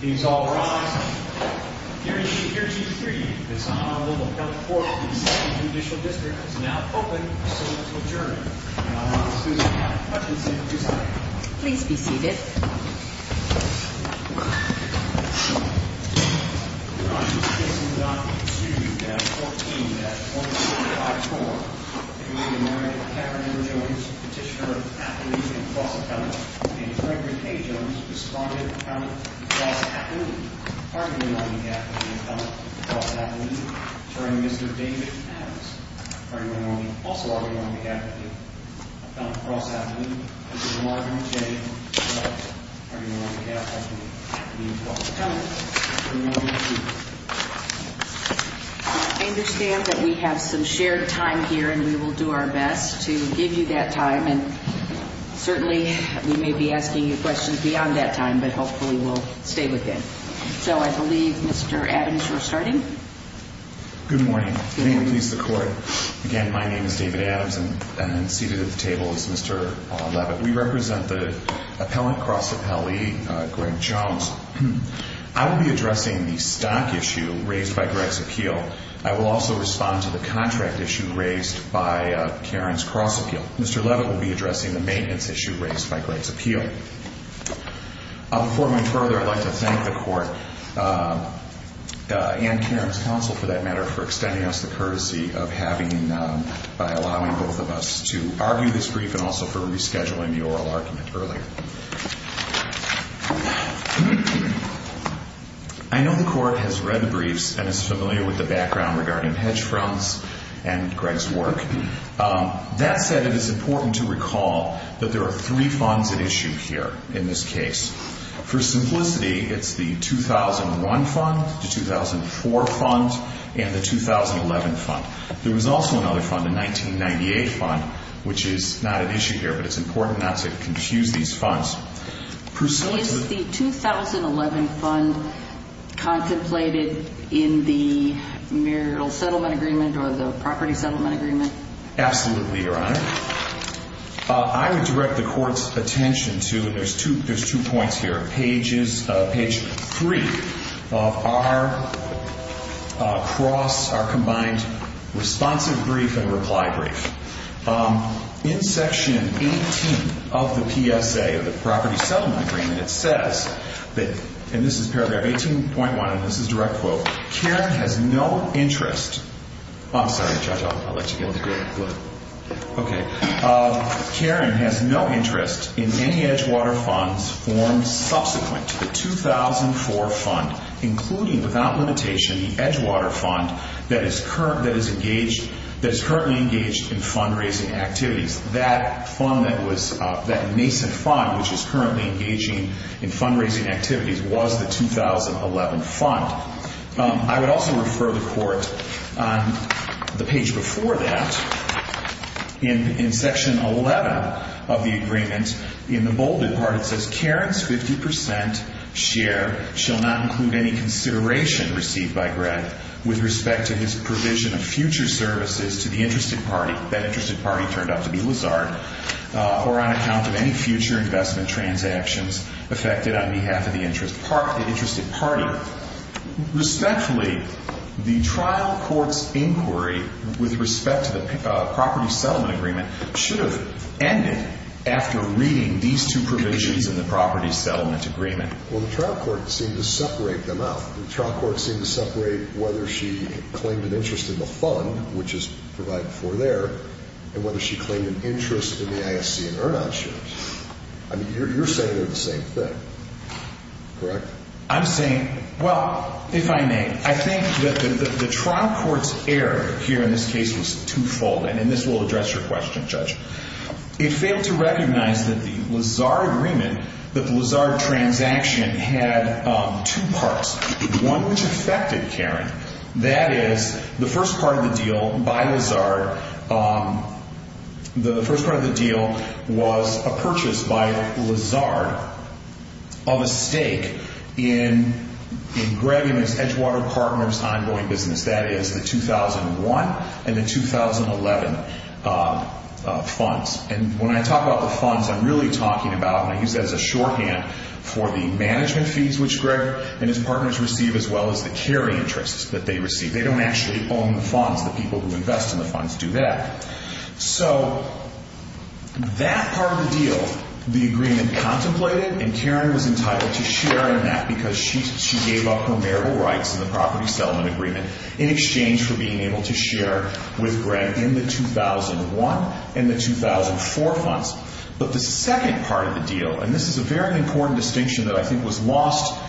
He's all right here. Here's your three. It's a little help for the initial district is now open. So let's adjourn. Please be seated. And arson. I understand that we have some shared time here and we will do our best to give you that time. And certainly we may be asking you questions beyond that time. But hopefully we'll stay with it. So I believe, Mr. Adams, we're starting. Good morning. Good morning. Again, my name is David Adams and seated at the table is Mr. Levitt. We represent the appellant cross appellee, Greg Jones. I will be addressing the stock issue raised by Greg's appeal. I will also respond to the contract issue raised by Karen's cross appeal. Mr. Levitt will be addressing the maintenance issue raised by Greg's appeal. Before we go further, I'd like to thank the court and Karen's counsel, for that matter, for extending us the courtesy of having, by allowing both of us to argue this brief and also for rescheduling the oral argument earlier. I know the court has read the briefs and is familiar with the background regarding hedge funds and Greg's work. That said, it is important to recall that there are three funds at issue here in this case. For simplicity, it's the 2001 fund, the 2004 fund, and the 2011 fund. There was also another fund, a 1998 fund, which is not at issue here, but it's important not to confuse these funds. Is the 2011 fund contemplated in the marital settlement agreement or the property settlement agreement? Absolutely, Your Honor. I would direct the court's attention to, and there's two points here, page three of our cross, our combined responsive brief and reply brief. In section 18 of the PSA, of the property settlement agreement, it says that, and this is paragraph 18.1 and this is direct quote, Karen has no interest in any Edgewater funds formed subsequent to the 2004 fund, including without limitation the Edgewater fund that is currently engaged in fundraising activities. That fund that was, that nascent fund which is currently engaging in fundraising activities was the 2011 fund. I would also refer the court, the page before that, in section 11 of the agreement, in the bolded part it says Karen's 50% share shall not include any consideration received by Greg with respect to his provision of future services to the interested party. That interested party turned out to be Lazard, or on account of any future investment transactions effected on behalf of the interested party. Respectfully, the trial court's inquiry with respect to the property settlement agreement should have ended after reading these two provisions in the property settlement agreement. Well, the trial court seemed to separate them out. The trial court seemed to separate whether she claimed an interest in the fund, which is provided before there, and whether she claimed an interest in the ISC and Ernst shares. I mean, you're saying they're the same thing, correct? I'm saying, well, if I may, I think that the trial court's error here in this case was twofold, and this will address your question, Judge. It failed to recognize that the Lazard agreement, that the Lazard transaction had two parts, one which affected Karen. That is, the first part of the deal by Lazard, the first part of the deal was a purchase by Lazard of a stake in Greg and his Edgewater partners' ongoing business. That is, the 2001 and the 2011 funds. And when I talk about the funds, I'm really talking about, and I use that as a shorthand, for the management fees which Greg and his partners receive, as well as the carry interests that they receive. They don't actually own the funds. The people who invest in the funds do that. So that part of the deal, the agreement contemplated, and Karen was entitled to share in that because she gave up her marital rights in the property settlement agreement in exchange for being able to share with Greg in the 2001 and the 2004 funds. But the second part of the deal, and this is a very important distinction that I think was lost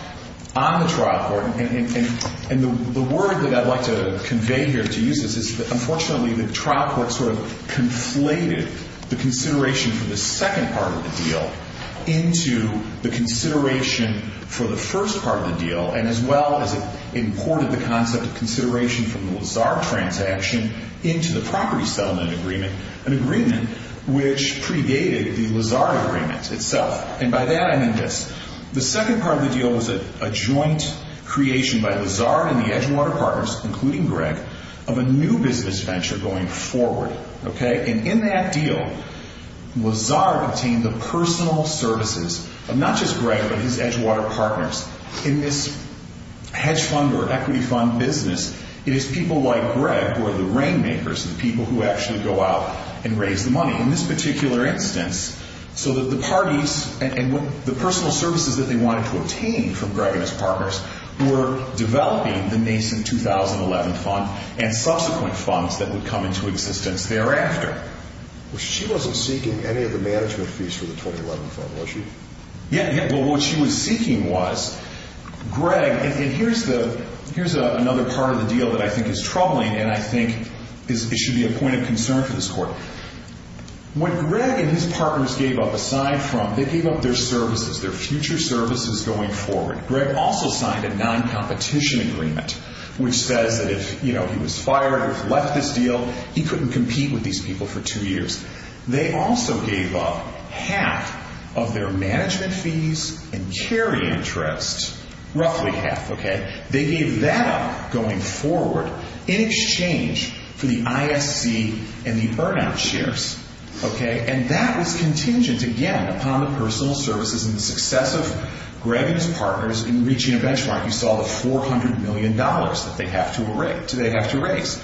on the trial court, and the word that I'd like to convey here to use this is that, unfortunately, the trial court sort of conflated the consideration for the second part of the deal into the consideration for the first part of the deal, and as well as it imported the concept of consideration from the Lazard transaction into the property settlement agreement, an agreement which predated the Lazard agreement itself. And by that, I mean this. The second part of the deal was a joint creation by Lazard and the Edgewater partners, including Greg, of a new business venture going forward. And in that deal, Lazard obtained the personal services of not just Greg but his Edgewater partners. In this hedge fund or equity fund business, it is people like Greg who are the rainmakers, the people who actually go out and raise the money. In this particular instance, so that the parties and the personal services that they wanted to obtain from Greg and his partners who were developing the nascent 2011 fund and subsequent funds that would come into existence thereafter. Well, she wasn't seeking any of the management fees for the 2011 fund, was she? Yeah, yeah. Well, what she was seeking was Greg, and here's another part of the deal that I think is troubling and I think it should be a point of concern for this court. What Greg and his partners gave up aside from, they gave up their services, their future services going forward. Greg also signed a non-competition agreement which says that if he was fired or left this deal, he couldn't compete with these people for two years. They also gave up half of their management fees and carry interest, roughly half, okay? They gave that up going forward in exchange for the ISC and the burnout shares, okay? And that was contingent, again, upon the personal services and the success of Greg and his partners in reaching a benchmark. You saw the $400 million that they have to raise.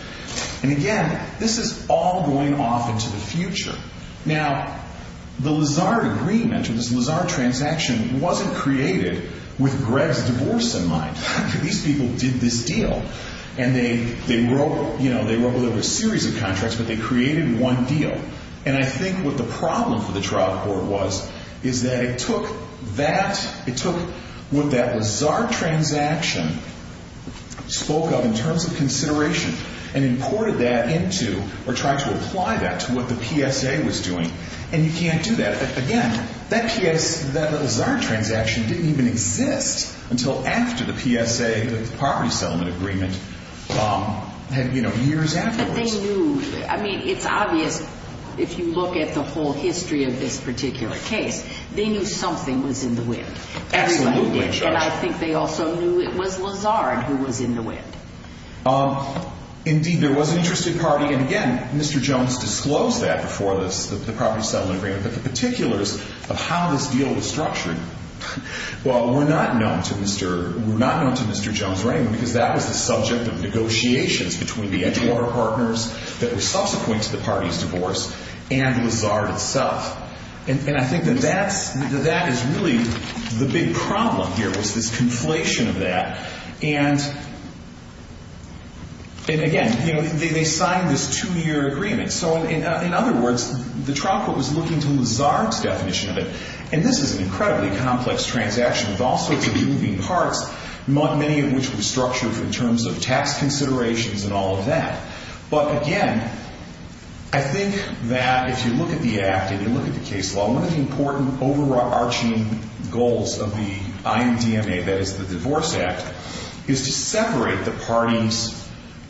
And again, this is all going off into the future. Now, the Lazard agreement or this Lazard transaction wasn't created with Greg's divorce in mind. These people did this deal and they wrote a series of contracts, but they created one deal. And I think what the problem for the trial court was is that it took that, it took what that Lazard transaction spoke of in terms of consideration and imported that into or tried to apply that to what the PSA was doing. And you can't do that. Again, that PS, that Lazard transaction didn't even exist until after the PSA, the property settlement agreement had, you know, years afterwards. But they knew, I mean, it's obvious if you look at the whole history of this particular case, they knew something was in the wind. Absolutely. And I think they also knew it was Lazard who was in the wind. Indeed, there was an interested party. And again, Mr. Jones disclosed that before the property settlement agreement, but the particulars of how this deal was structured, well, were not known to Mr. Jones or anyone because that was the subject of negotiations between the Edgewater partners that were subsequent to the party's divorce and Lazard itself. And I think that that is really the big problem here was this conflation of that. And again, you know, they signed this two-year agreement. So in other words, the trial court was looking to Lazard's definition of it. And this is an incredibly complex transaction with all sorts of moving parts, many of which were structured in terms of tax considerations and all of that. But again, I think that if you look at the act and you look at the case law, one of the important overarching goals of the IMDMA, that is the Divorce Act, is to separate the parties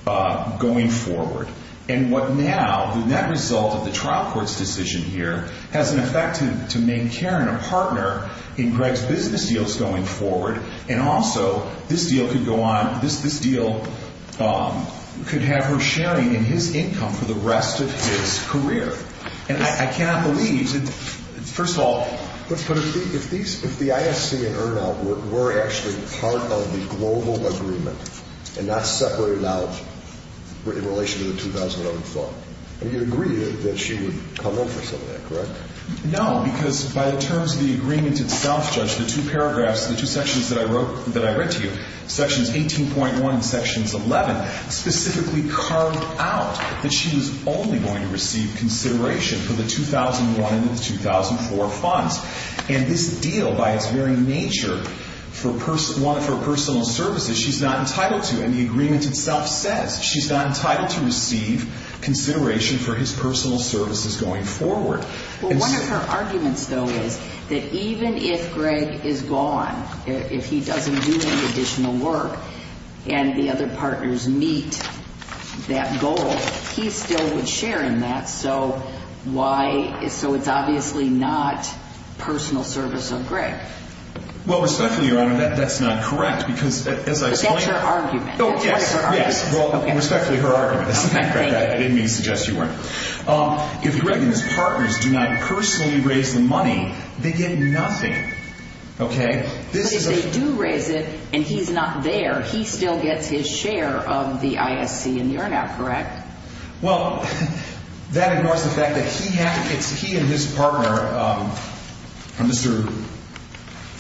going forward. And what now, the net result of the trial court's decision here, has an effect to make Karen a partner in Greg's business deals going forward and also this deal could go on. This deal could have her sharing in his income for the rest of his career. And I cannot believe, first of all. But if the ISC and Earn Out were actually part of the global agreement and not separated out in relation to the 2011 fund, you would agree that she would come in for some of that, correct? No, because by the terms of the agreement itself, Judge, the two paragraphs, the two sections that I read to you, Sections 18.1 and Sections 11, specifically carved out that she was only going to receive consideration for the 2001 and the 2004 funds. And this deal, by its very nature, for personal services, she's not entitled to. And the agreement itself says she's not entitled to receive consideration for his personal services going forward. Well, one of her arguments, though, is that even if Greg is gone, if he doesn't do any additional work and the other partners meet that goal, he still would share in that. So why? So it's obviously not personal service of Greg. Well, respectfully, Your Honor, that's not correct because, as I explained. But that's her argument. Oh, yes. Respectfully her argument. I didn't mean to suggest you weren't. If Greg and his partners do not personally raise the money, they get nothing. Okay? But if they do raise it and he's not there, he still gets his share of the ISC, and you're not correct. Well, that ignores the fact that he and his partner, Mr.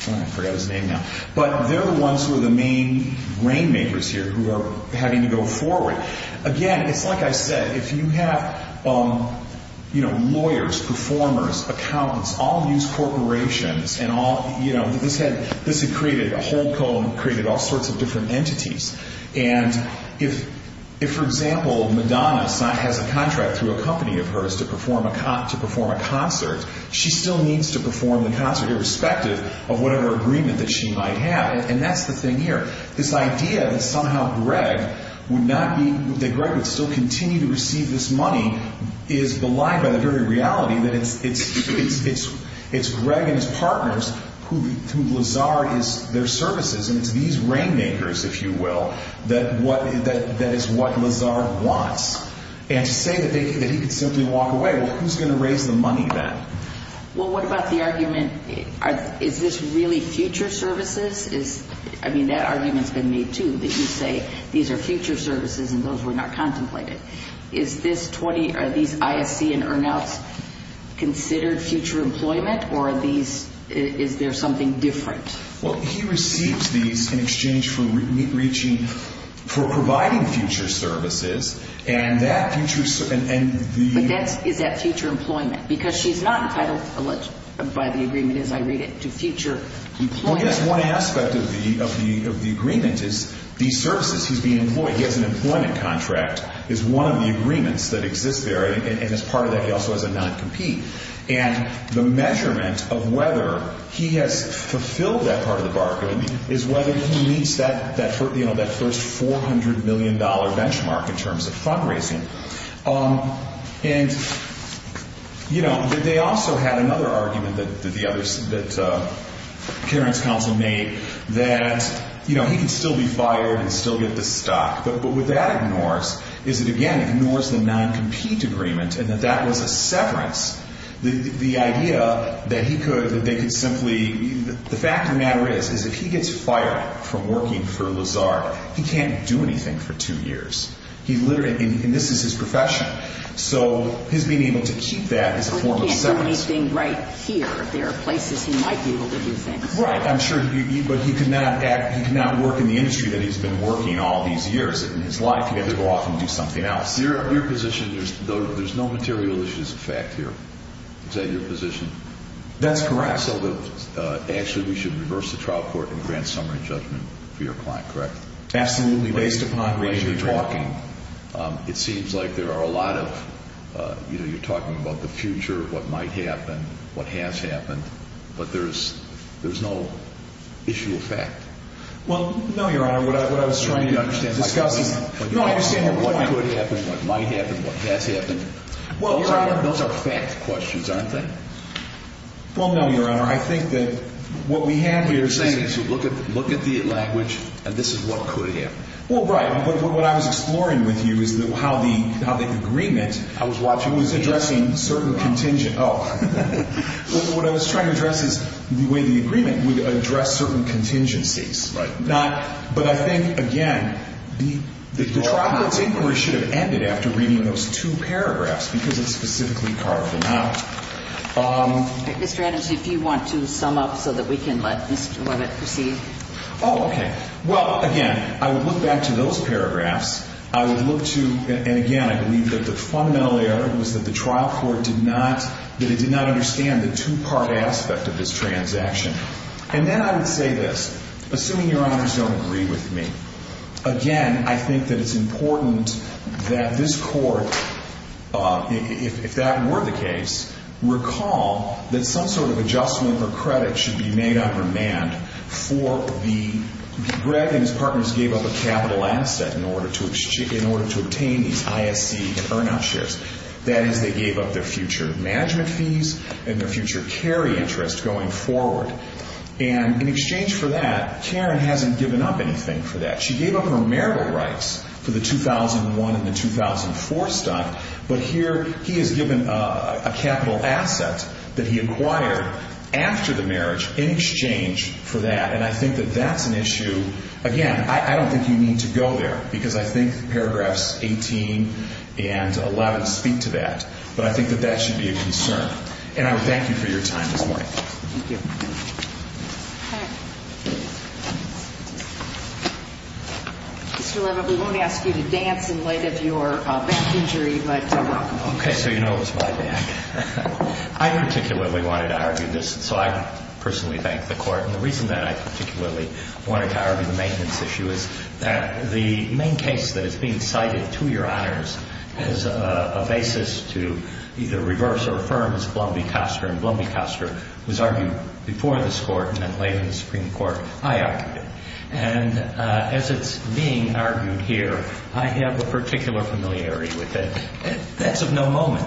I forgot his name now, but they're the ones who are the main rainmakers here who are having to go forward. Again, it's like I said, if you have lawyers, performers, accountants, all these corporations and all, you know, this had created a whole cone, created all sorts of different entities. And if, for example, Madonna has a contract through a company of hers to perform a concert, she still needs to perform the concert, irrespective of whatever agreement that she might have. And that's the thing here. This idea that somehow Greg would not be, that Greg would still continue to receive this money is belied by the very reality that it's Greg and his partners who Lazard is their services, and it's these rainmakers, if you will, that is what Lazard wants. And to say that he could simply walk away, well, who's going to raise the money then? Well, what about the argument, is this really future services? I mean, that argument's been made, too, that you say these are future services and those were not contemplated. Is this 20, are these ISC and earnouts considered future employment, or are these, is there something different? Well, he receives these in exchange for reaching, for providing future services, and that future, and the- But that's, is that future employment? Because she's not entitled by the agreement, as I read it, to future employment. Well, yes, one aspect of the agreement is these services he's being employed, he has an employment contract, is one of the agreements that exist there, and as part of that he also has a non-compete. And the measurement of whether he has fulfilled that part of the bargain is whether he meets that first $400 million benchmark in terms of fundraising. And, you know, they also had another argument that Karen's counsel made, that, you know, he could still be fired and still get the stock. But what that ignores is it, again, ignores the non-compete agreement and that that was a severance. The idea that he could, that they could simply, the fact of the matter is, is if he gets fired from working for Lazard, he can't do anything for two years. He literally, and this is his profession. So his being able to keep that is a form of severance. He can't do anything right here. There are places he might be able to do things. Right, I'm sure, but he could not act, he could not work in the industry that he's been working all these years in his life. He had to go off and do something else. Your position, there's no material issues of fact here. Is that your position? That's correct. So that actually we should reverse the trial court and grant summary judgment for your client, correct? Absolutely, based upon what you're talking. It seems like there are a lot of, you know, you're talking about the future, what might happen, what has happened, but there's no issue of fact. Well, no, Your Honor, what I was trying to understand, discussing, you don't understand what could happen, what might happen, what has happened. Well, Your Honor. Those are fact questions, aren't they? Well, no, Your Honor, I think that what we have here is. Look at the language, and this is what could happen. Well, right, but what I was exploring with you is how the agreement I was watching was addressing certain contingent. Oh, what I was trying to address is the way the agreement would address certain contingencies. Right. But I think, again, the trial court's inquiry should have ended after reading those two paragraphs because it's specifically carved them out. Mr. Adams, if you want to sum up so that we can let Mr. Leavitt proceed. Oh, okay. Well, again, I would look back to those paragraphs. I would look to, and again, I believe that the fundamental error was that the trial court did not, that it did not understand the two-part aspect of this transaction. And then I would say this, assuming Your Honors don't agree with me, again, I think that it's important that this court, if that were the case, recall that some sort of adjustment or credit should be made on remand for the, Greg and his partners gave up a capital asset in order to obtain these ISC earn-out shares. That is, they gave up their future management fees and their future carry interest going forward. And in exchange for that, Karen hasn't given up anything for that. She gave up her marital rights for the 2001 and the 2004 stunt, but here he has given a capital asset that he acquired after the marriage in exchange for that. And I think that that's an issue. Again, I don't think you need to go there, because I think paragraphs 18 and 11 speak to that. But I think that that should be a concern. And I would thank you for your time this morning. Thank you. Mr. Levitt, we won't ask you to dance in light of your back injury, but welcome. Okay. So you know it was my back. I particularly wanted to argue this, so I personally thank the Court. And the reason that I particularly wanted to argue the maintenance issue is that the main case that is being cited to Your Honors as a basis to either reverse or affirm is Blum v. Koster. And Blum v. Koster was argued before this Court and then later in the Supreme Court. I argued it. And as it's being argued here, I have a particular familiarity with it. That's of no moment.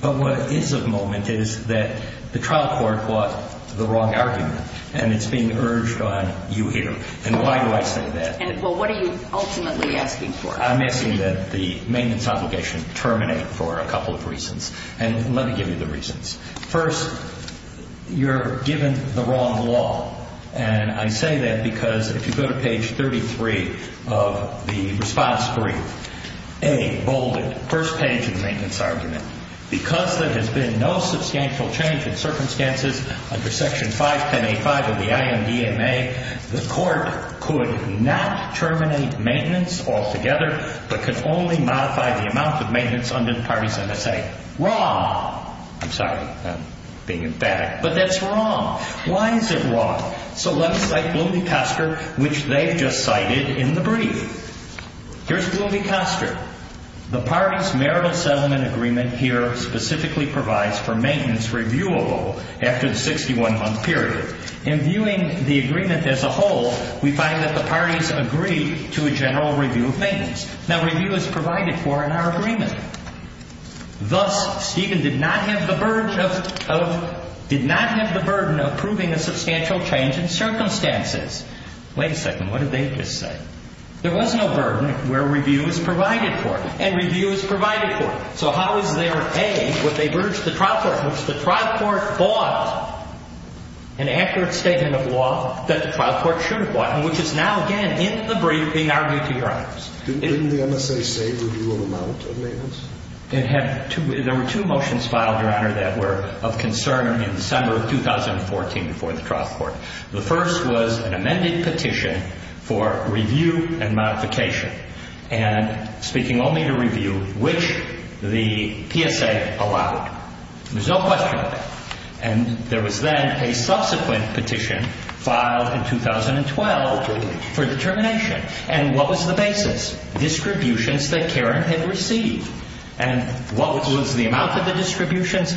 But what is of moment is that the trial court brought the wrong argument, and it's being urged on you here. And why do I say that? Well, what are you ultimately asking for? I'm asking that the maintenance obligation terminate for a couple of reasons. And let me give you the reasons. First, you're given the wrong law. And I say that because if you go to page 33 of the response brief, A, bolded, first page of the maintenance argument, because there has been no substantial change in circumstances under Section 51085 of the IMDMA, the Court could not terminate maintenance altogether but could only modify the amount of maintenance under Parties MSA. Wrong. I'm sorry. I'm being emphatic. But that's wrong. Why is it wrong? So let's cite Blum v. Koster, which they've just cited in the brief. Here's Blum v. Koster. The parties' marital settlement agreement here specifically provides for maintenance reviewable after the 61-month period. In viewing the agreement as a whole, we find that the parties agree to a general review of maintenance. Now, review is provided for in our agreement. Thus, Stephen did not have the burden of proving a substantial change in circumstances. Wait a second. What did they just say? There was no burden where review is provided for. And review is provided for. So how is there, A, what they've urged the trial court, which the trial court bought an accurate statement of law that the trial court should have bought, and which is now, again, in the brief being argued to your honors. Didn't the MSA say review of amount of maintenance? There were two motions filed, your honor, that were of concern in December of 2014 before the trial court. The first was an amended petition for review and modification. And speaking only to review, which the PSA allowed. There's no question about that. And there was then a subsequent petition filed in 2012 for determination. And what was the basis? Distributions that Karen had received. And what was the amount of the distributions?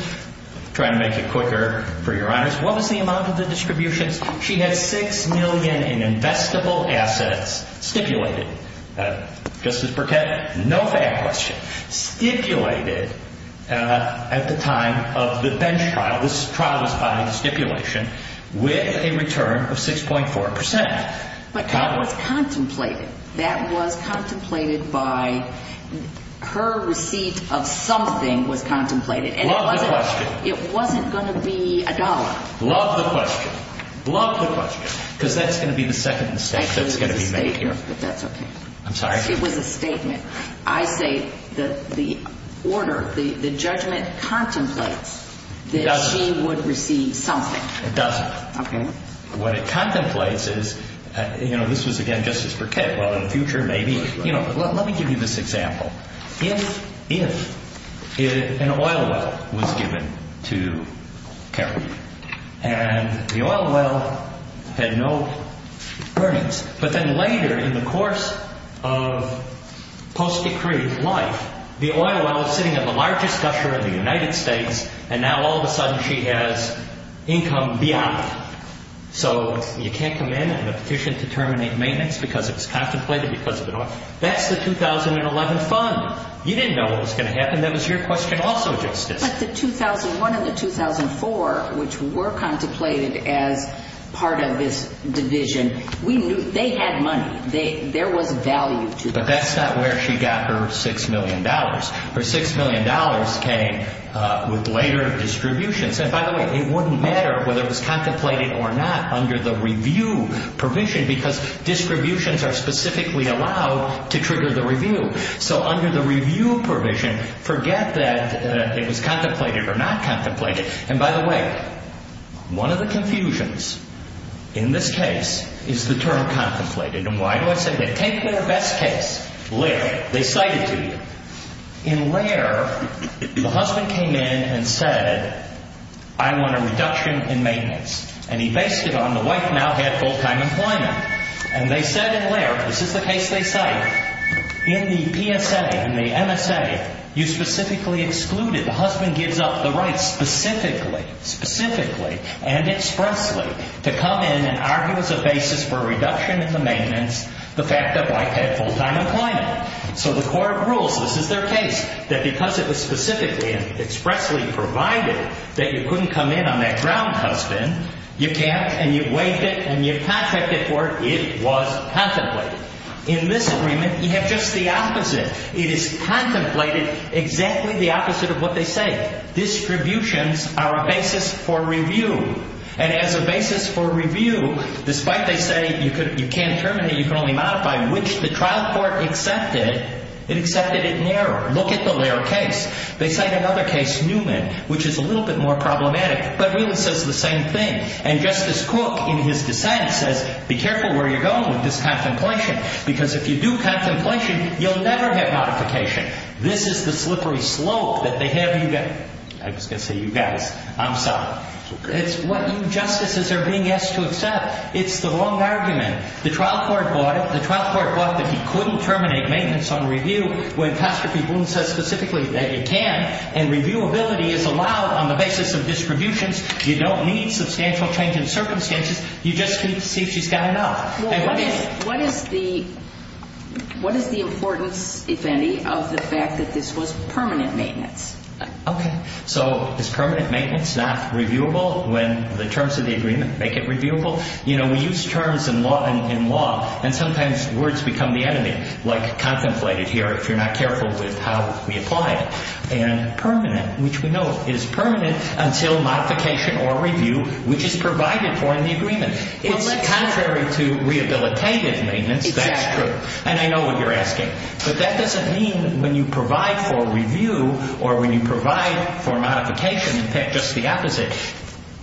Trying to make it quicker for your honors. What was the amount of the distributions? She had $6 million in investable assets stipulated. Justice Burkett, no fair question. Stipulated at the time of the bench trial. This trial was filed in stipulation with a return of 6.4%. But that was contemplated. That was contemplated by her receipt of something was contemplated. Love the question. It wasn't going to be a dollar. Love the question. Love the question. Because that's going to be the second mistake that's going to be made here. It was a statement, but that's okay. I'm sorry? It was a statement. I say the order, the judgment contemplates that she would receive something. It doesn't. Okay. What it contemplates is, you know, this was, again, Justice Burkett. Well, in the future, maybe. Let me give you this example. If an oil well was given to Karen. And the oil well had no earnings. But then later in the course of post-decree life, the oil well is sitting in the largest And now all of a sudden she has income beyond it. So you can't come in with a petition to terminate maintenance because it was contemplated. That's the 2011 fund. You didn't know what was going to happen. That was your question also, Justice. But the 2001 and the 2004, which were contemplated as part of this division, they had money. There was value to them. But that's not where she got her $6 million. Her $6 million came with later distributions. And by the way, it wouldn't matter whether it was contemplated or not under the review provision because distributions are specifically allowed to trigger the review. So under the review provision, forget that it was contemplated or not contemplated. And by the way, one of the confusions in this case is the term contemplated. And why do I say that? Take their best case, Laird. They cite it to you. In Laird, the husband came in and said, I want a reduction in maintenance. And he based it on the wife now had full-time employment. And they said in Laird, this is the case they cite, in the PSA, in the MSA, you specifically excluded. The husband gives up the rights specifically, specifically, and expressly to come in and argue as a basis for a reduction in the maintenance, the fact that wife had full-time employment. So the court rules, this is their case, that because it was specifically and expressly provided that you couldn't come in on that ground, husband, you can't and you've waived it and you've contracted for it, it was contemplated. In this agreement, you have just the opposite. It is contemplated exactly the opposite of what they say. Distributions are a basis for review. And as a basis for review, despite they say you can't terminate, you can only modify, which the trial court accepted, it accepted it in error. Look at the Laird case. They cite another case, Newman, which is a little bit more problematic, but really says the same thing. And Justice Cook, in his dissent, says be careful where you're going with this contemplation because if you do contemplation, you'll never have modification. This is the slippery slope that they have you get. I was going to say you guys. I'm sorry. It's what you justices are being asked to accept. It's the wrong argument. The trial court bought it. The trial court bought that he couldn't terminate maintenance on review when Coster P. Boone says specifically that you can. And reviewability is allowed on the basis of distributions. You don't need substantial change in circumstances. You just need to see if she's got enough. What is the importance, if any, of the fact that this was permanent maintenance? Okay. So is permanent maintenance not reviewable when the terms of the agreement make it reviewable? You know, we use terms in law, and sometimes words become the enemy, like contemplated here if you're not careful with how we apply it. And permanent, which we know is permanent until modification or review, which is provided for in the agreement. It's contrary to rehabilitative maintenance. That's true. And I know what you're asking. But that doesn't mean when you provide for review or when you provide for modification, in fact, just the opposite.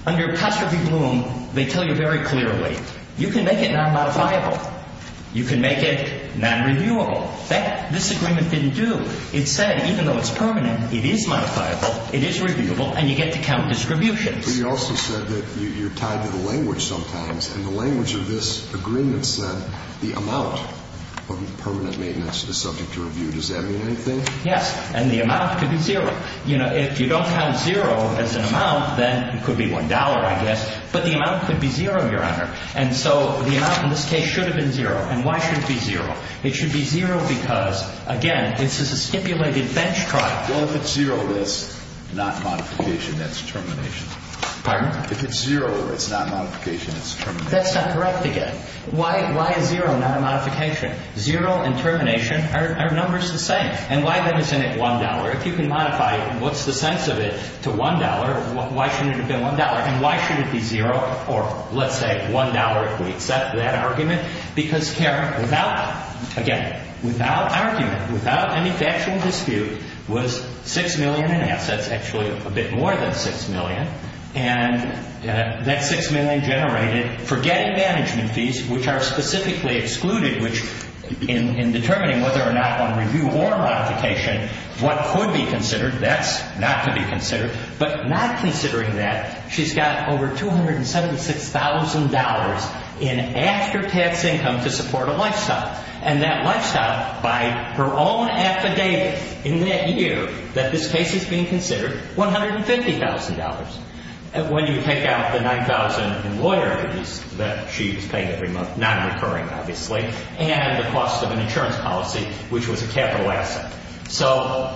Under Coster P. Boone, they tell you very clearly, you can make it non-modifiable. You can make it non-reviewable. This agreement didn't do. It said even though it's permanent, it is modifiable, it is reviewable, and you get to count distributions. But you also said that you're tied to the language sometimes, and the language of this agreement said the amount of permanent maintenance is subject to review. Does that mean anything? Yes. And the amount could be zero. You know, if you don't have zero as an amount, then it could be $1, I guess. But the amount could be zero, Your Honor. And so the amount in this case should have been zero. And why should it be zero? It should be zero because, again, this is a stipulated bench trial. Well, if it's zero, that's not modification. That's termination. Pardon? If it's zero, it's not modification. It's termination. That's not correct again. Why is zero not a modification? Zero and termination are numbers the same. And why then isn't it $1? If you can modify it, what's the sense of it to $1? Why shouldn't it have been $1? And why should it be zero or, let's say, $1 if we accept that argument? Because, Karen, without, again, without argument, without any factual dispute, was $6 million in assets, actually a bit more than $6 million. And that $6 million generated for gang management fees, which are specifically excluded, which in determining whether or not on review or modification what could be considered, that's not to be considered. But not considering that, she's got over $276,000 in after-tax income to support a lifestyle. And that lifestyle, by her own affidavit in that year that this case is being considered, $150,000. When you take out the $9,000 in loyalties that she was paying every month, non-recurring, obviously, and the cost of an insurance policy, which was a capital asset. So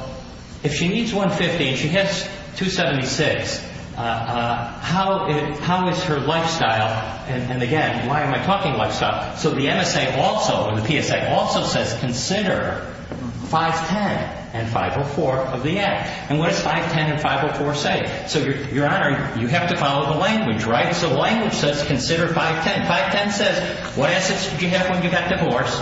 if she needs $150,000 and she has $276,000, how is her lifestyle, and again, why am I talking lifestyle? So the MSA also, the PSA also says, consider 510 and 504 of the act. And what does 510 and 504 say? So, Your Honor, you have to follow the language, right? So the language says, consider 510. 510 says, what assets did you have when you got divorced?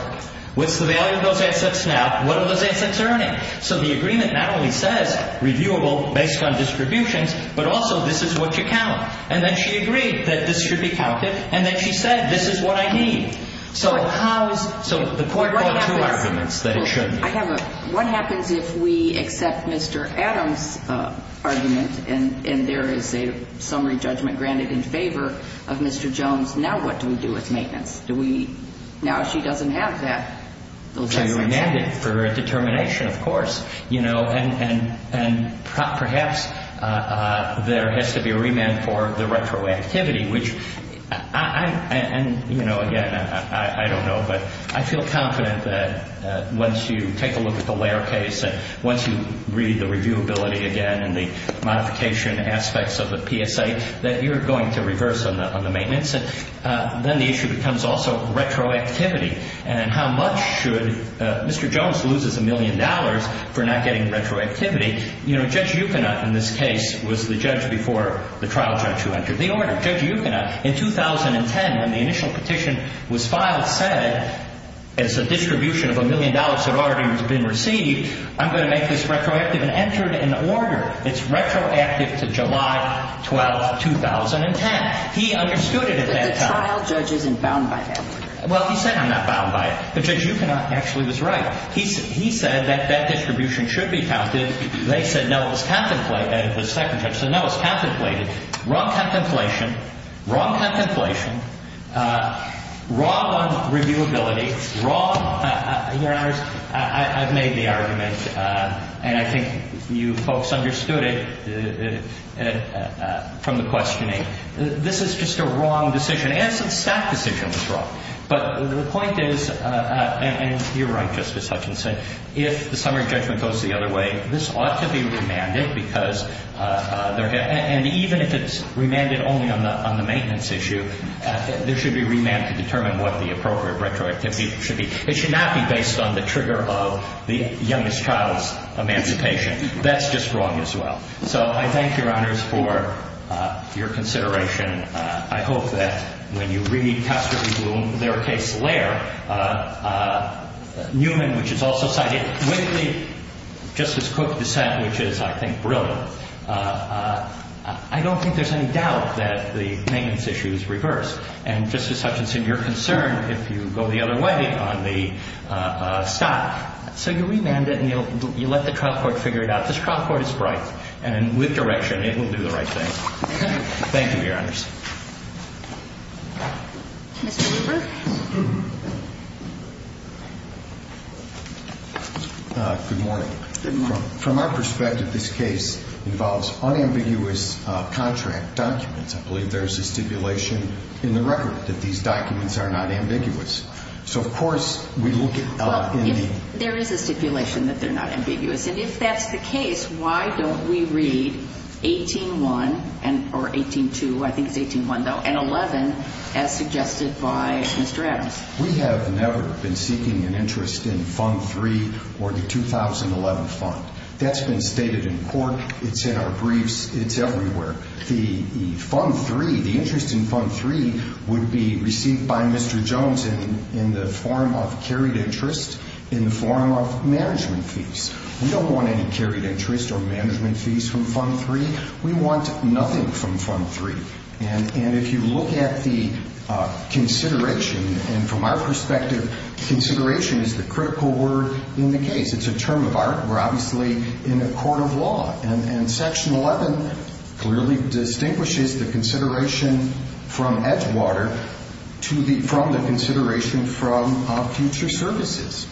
What's the value of those assets now? What are those assets earning? So the agreement not only says, reviewable based on distributions, but also this is what you count. And then she agreed that this should be counted. And then she said, this is what I need. So how is, so the court brought two arguments that it shouldn't be. I have a, what happens if we accept Mr. Adams' argument and there is a summary judgment granted in favor of Mr. Jones? Now what do we do with maintenance? Do we, now she doesn't have that, those assets. To remand it for a determination, of course. You know, and perhaps there has to be a remand for the retroactivity, which I, and, you know, again, I don't know. But I feel confident that once you take a look at the layer case and once you read the reviewability again and the modification aspects of the PSA, that you're going to reverse on the maintenance. Then the issue becomes also retroactivity. And how much should, Mr. Jones loses a million dollars for not getting retroactivity. You know, Judge Yukonaut in this case was the judge before the trial judge who entered the order. Judge Yukonaut, in 2010, when the initial petition was filed, said as a distribution of a million dollars had already been received, I'm going to make this retroactive and entered an order. It's retroactive to July 12, 2010. He understood it at that time. But the trial judge isn't bound by that. Well, he said I'm not bound by it. But Judge Yukonaut actually was right. He said that that distribution should be counted. They said no, it was contemplated. The second judge said no, it was contemplated. Wrong contemplation. Wrong contemplation. Wrong on reviewability. Wrong, Your Honors, I've made the argument, and I think you folks understood it from the questioning. This is just a wrong decision. An innocent staff decision was wrong. But the point is, and you're right, Justice Hutchinson, if the summary judgment goes the other way, this ought to be remanded because and even if it's remanded only on the maintenance issue, there should be remand to determine what the appropriate retroactivity should be. It should not be based on the trigger of the youngest child's emancipation. That's just wrong as well. So I thank Your Honors for your consideration. I hope that when you read Casterly Bloom, their case lair, Newman, which is also cited, Whitley, Justice Cook dissent, which is, I think, brilliant, I don't think there's any doubt that the maintenance issue is reversed. And, Justice Hutchinson, you're concerned if you go the other way on the stop. So you remand it and you let the trial court figure it out. This trial court is bright. And with direction, it will do the right thing. Thank you, Your Honors. Mr. Lieber? Good morning. Good morning. From our perspective, this case involves unambiguous contract documents. I believe there is a stipulation in the record that these documents are not ambiguous. So, of course, we look at the – Well, if there is a stipulation that they're not ambiguous, and if that's the case, why don't we read 18-1, or 18-2, I think it's 18-1, though, and 11 as suggested by Mr. Adams? We have never been seeking an interest in Fund 3 or the 2011 fund. That's been stated in court. It's in our briefs. It's everywhere. The Fund 3, the interest in Fund 3 would be received by Mr. Jones in the form of carried interest, in the form of management fees. We don't want any carried interest or management fees from Fund 3. We want nothing from Fund 3. And if you look at the consideration, and from our perspective, consideration is the critical word in the case. It's a term of art. We're obviously in a court of law. And Section 11 clearly distinguishes the consideration from Edgewater from the consideration from future services.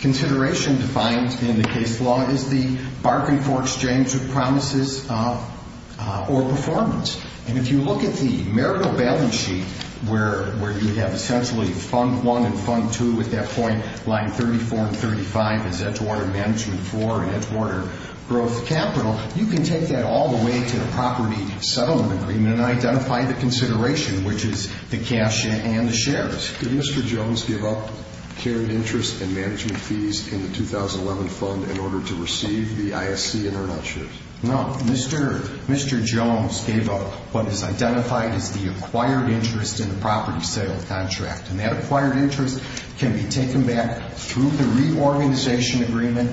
Consideration defined in the case law is the bargain for exchange of promises or performance. And if you look at the marital balance sheet, where you have essentially Fund 1 and Fund 2 at that point, Line 34 and 35 is Edgewater Management 4 and Edgewater Growth Capital, you can take that all the way to the property settlement agreement and identify the consideration, which is the cash and the shares. Did Mr. Jones give up carried interest and management fees in the 2011 fund in order to receive the ISC and earn out shares? No, Mr. Jones gave up what is identified as the acquired interest in the property sale contract. And that acquired interest can be taken back through the reorganization agreement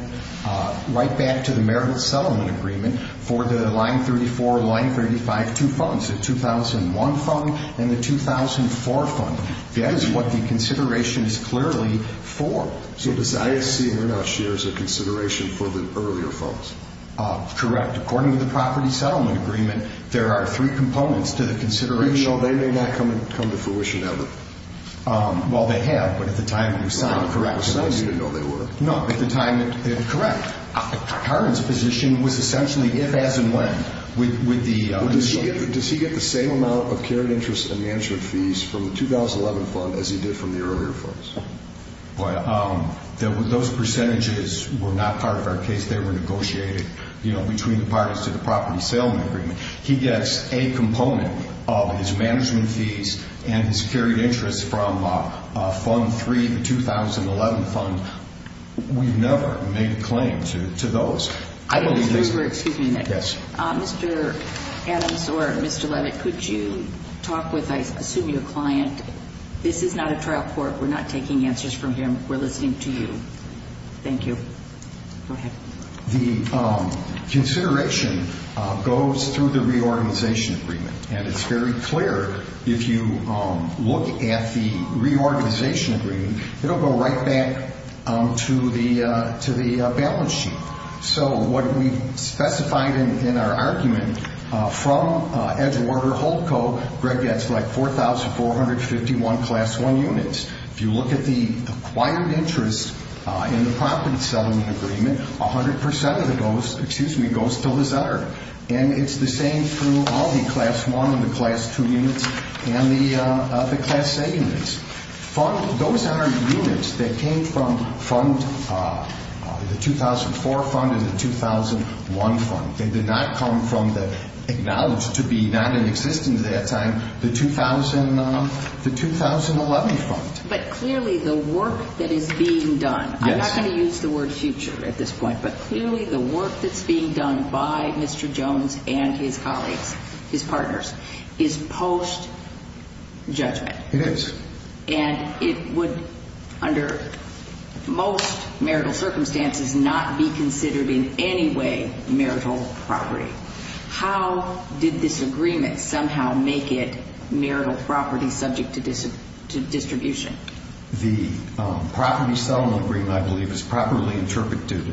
right back to the marital settlement agreement for the Line 34, Line 35, two funds, the 2001 fund and the 2004 fund. That is what the consideration is clearly for. So the ISC and earn out shares are consideration for the earlier funds? Correct. According to the property settlement agreement, there are three components to the consideration. Even though they may not come to fruition ever? Well, they have, but at the time it was signed, correct. At the time you didn't know they were. No, at the time, correct. Karin's position was essentially if, as, and when. Does he get the same amount of carried interest and management fees from the 2011 fund as he did from the earlier funds? Those percentages were not part of our case. They were negotiated between the parties to the property settlement agreement. He gets a component of his management fees and his carried interest from fund three, the 2011 fund. We've never made a claim to those. Excuse me, Nick. Yes. Mr. Adams or Mr. Levitt, could you talk with, I assume you're a client. This is not a trial court. We're not taking answers from him. We're listening to you. Thank you. Go ahead. The consideration goes through the reorganization agreement, and it's very clear if you look at the reorganization agreement, it will go right back to the balance sheet. So what we've specified in our argument from Edgewater Holdco, Greg gets like 4,451 class one units. If you look at the acquired interest in the property settlement agreement, 100% of it goes to Lizetter, and it's the same through all the class one and the class two units and the class A units. Those are units that came from the 2004 fund and the 2001 fund. They did not come from the acknowledged to be non-existent at that time, the 2011 fund. But clearly the work that is being done, I'm not going to use the word future at this point, but clearly the work that's being done by Mr. Jones and his colleagues, his partners, is post-judgment. It is. And it would, under most marital circumstances, not be considered in any way marital property. How did this agreement somehow make it marital property subject to distribution? The property settlement agreement, I believe, is properly interpreted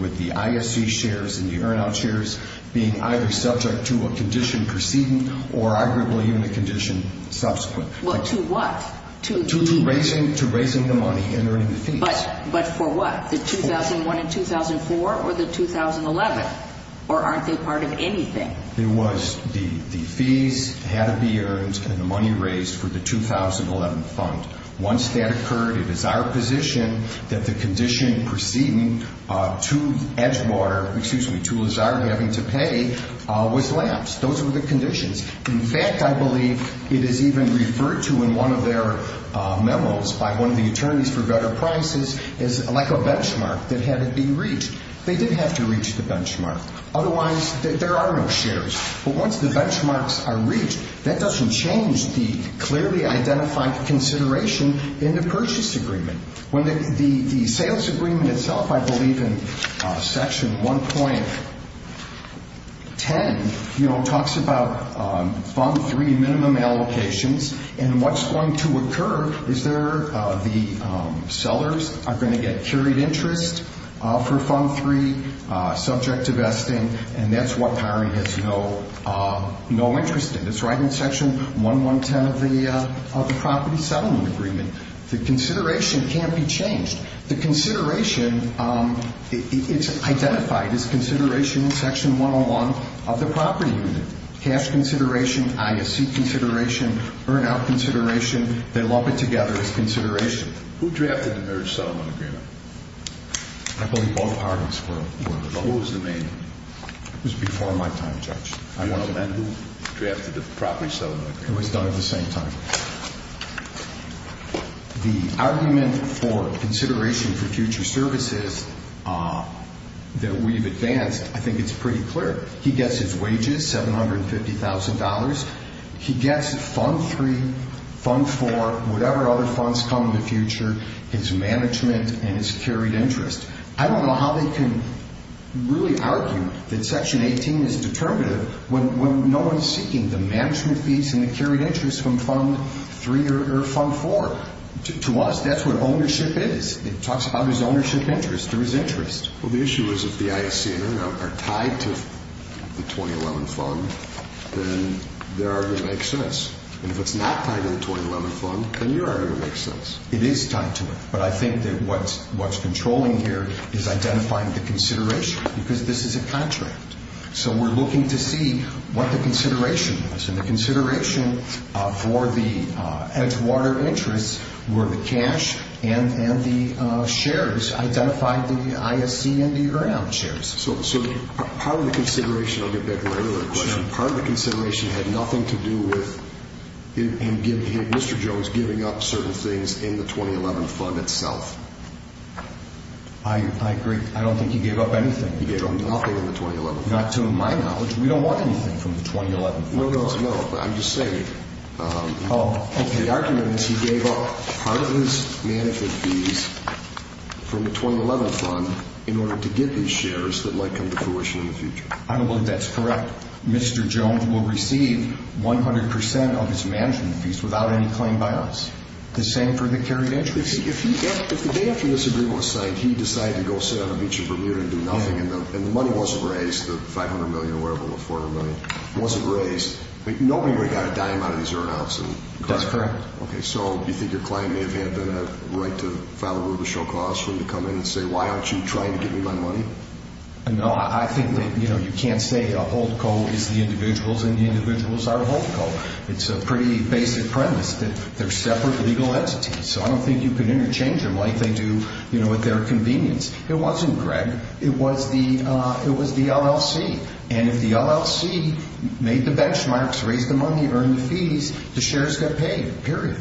with the ISC shares and the earn out shares being either subject to a condition preceding or arguably even a condition subsequent. Well, to what? To raising the money and earning the fees. But for what? The 2001 and 2004 or the 2011? Or aren't they part of anything? It was the fees had to be earned and the money raised for the 2011 fund. Once that occurred, it is our position that the condition preceding to Edgewater, excuse me, to Lazard having to pay was lapsed. Those were the conditions. In fact, I believe it is even referred to in one of their memos by one of the attorneys for better prices as like a benchmark that had to be reached. They did have to reach the benchmark. Otherwise, there are no shares. But once the benchmarks are reached, that doesn't change the clearly identified consideration in the purchase agreement. The sales agreement itself, I believe, in section 1.10, talks about fund three minimum allocations. And what's going to occur is the sellers are going to get carried interest for fund three subject to vesting. And that's what the hiring has no interest in. It's right in section 1.10 of the property settlement agreement. The consideration can't be changed. The consideration, it's identified as consideration in section 1.01 of the property unit. Cash consideration, IFC consideration, earn out consideration, they lump it together as consideration. Who drafted the marriage settlement agreement? I believe both parties were. Who was the main? It was before my time, Judge. I want to amend who drafted the property settlement agreement. It was done at the same time. The argument for consideration for future services that we've advanced, I think it's pretty clear. He gets his wages, $750,000. He gets fund three, fund four, whatever other funds come in the future, his management and his carried interest. I don't know how they can really argue that section 18 is determinative when no one is seeking the management fees and the carried interest from fund three or fund four. To us, that's what ownership is. It talks about his ownership interest or his interest. Well, the issue is if the IFC and earn out are tied to the 2011 fund, then their argument makes sense. And if it's not tied to the 2011 fund, then your argument makes sense. It is tied to it. But I think that what's controlling here is identifying the consideration because this is a contract. So we're looking to see what the consideration is. And the consideration for the Edgewater interest were the cash and the shares, identified the IFC and the earn out shares. So part of the consideration, I'll get back to my other question, part of the consideration had nothing to do with Mr. Jones giving up certain things in the 2011 fund itself. I agree. I don't think he gave up anything. He gave up nothing in the 2011 fund. Not to my knowledge. We don't want anything from the 2011 fund. No, no, no. I'm just saying. Oh, okay. The argument is he gave up part of his management fees from the 2011 fund in order to get these shares that might come to fruition in the future. I don't believe that's correct. Mr. Jones will receive 100% of his management fees without any claim by us. The same for the carried interest. If the day after this agreement was signed, he decided to go sit on a beach in Vermeer and do nothing, and the money wasn't raised, the $500 million or whatever, the $400 million, wasn't raised, nobody would have gotten a dime out of these earn outs. That's correct. Okay, so you think your client may have had the right to file a rubrical clause for him to come in and say, why aren't you trying to give me my money? No, I think that you can't say a hold co is the individuals and the individuals are a hold co. It's a pretty basic premise that they're separate legal entities. So I don't think you can interchange them like they do at their convenience. It wasn't, Greg. It was the LLC. And if the LLC made the benchmarks, raised the money, earned the fees, the shares got paid, period.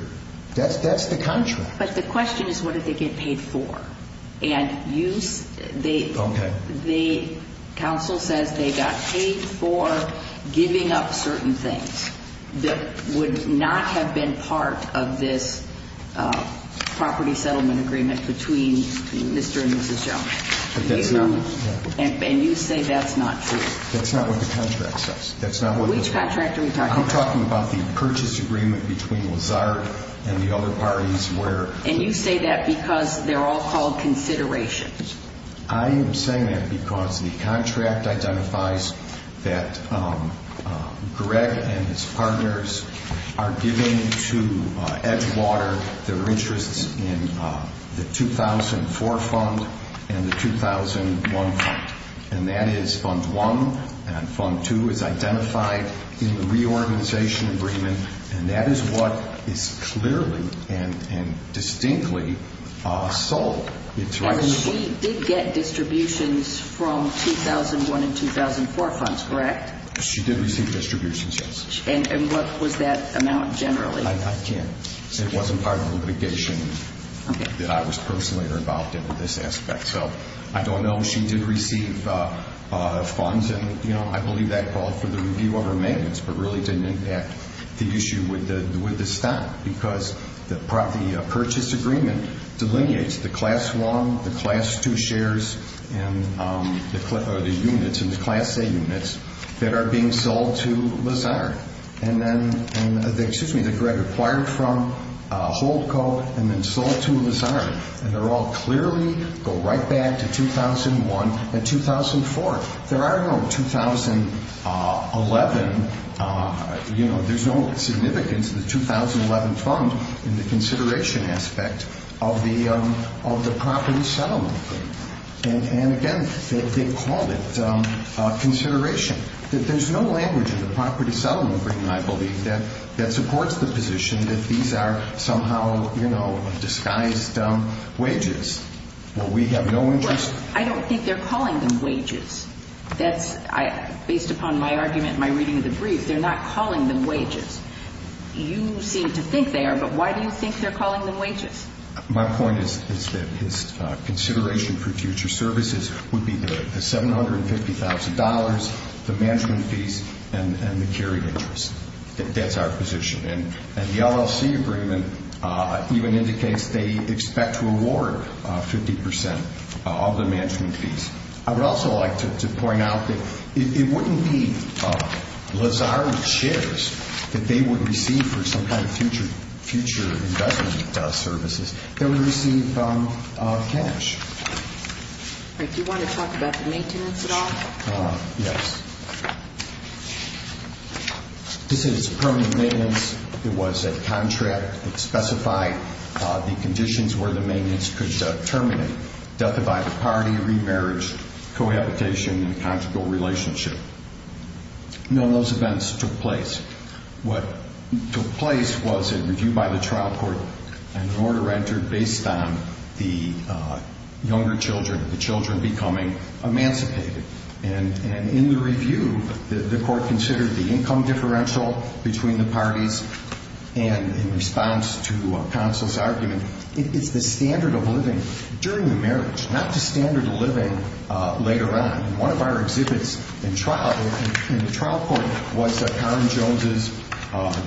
That's the contract. But the question is, what did they get paid for? Okay. The counsel says they got paid for giving up certain things that would not have been part of this property settlement agreement between Mr. and Mrs. Jones. And you say that's not true. That's not what the contract says. Which contract are we talking about? I'm talking about the purchase agreement between Lazard and the other parties where And you say that because they're all called considerations. I am saying that because the contract identifies that Greg and his partners are giving to Edgewater their interests in the 2004 fund and the 2001 fund. And that is fund one. And fund two is identified in the reorganization agreement. And that is what is clearly and distinctly sold. And she did get distributions from 2001 and 2004 funds, correct? She did receive distributions, yes. And what was that amount generally? I can't. It wasn't part of the litigation that I was personally involved in in this aspect. So I don't know. She did receive funds, and I believe that called for the review of her maintenance but really didn't impact the issue with the stock because the purchase agreement delineates the class one, the class two shares, and the units and the class A units that are being sold to Lazard. And then, excuse me, that Greg acquired from Holdco and then sold to Lazard. And they all clearly go right back to 2001 and 2004. There are no 2011, you know, there's no significance of the 2011 fund in the consideration aspect of the property settlement agreement. And, again, they called it consideration. There's no language in the property settlement agreement, I believe, that supports the position that these are somehow, you know, disguised wages. Well, we have no interest. I don't think they're calling them wages. Based upon my argument in my reading of the brief, they're not calling them wages. You seem to think they are, but why do you think they're calling them wages? My point is that his consideration for future services would be the $750,000, the management fees, and the carried interest. That's our position. And the LLC agreement even indicates they expect to award 50% of the management fees. I would also like to point out that it wouldn't be Lazard's shares that they would receive for some kind of future investment services. They would receive cash. Do you want to talk about the maintenance at all? Yes. This is permanent maintenance. It was a contract that specified the conditions where the maintenance could terminate, death by the party, remarriage, cohabitation, and conjugal relationship. None of those events took place. What took place was a review by the trial court, and an order entered based on the younger children, the children becoming emancipated. And in the review, the court considered the income differential between the parties, and in response to counsel's argument, it's the standard of living during the marriage, not the standard of living later on. One of our exhibits in trial, in the trial court, was Karen Jones'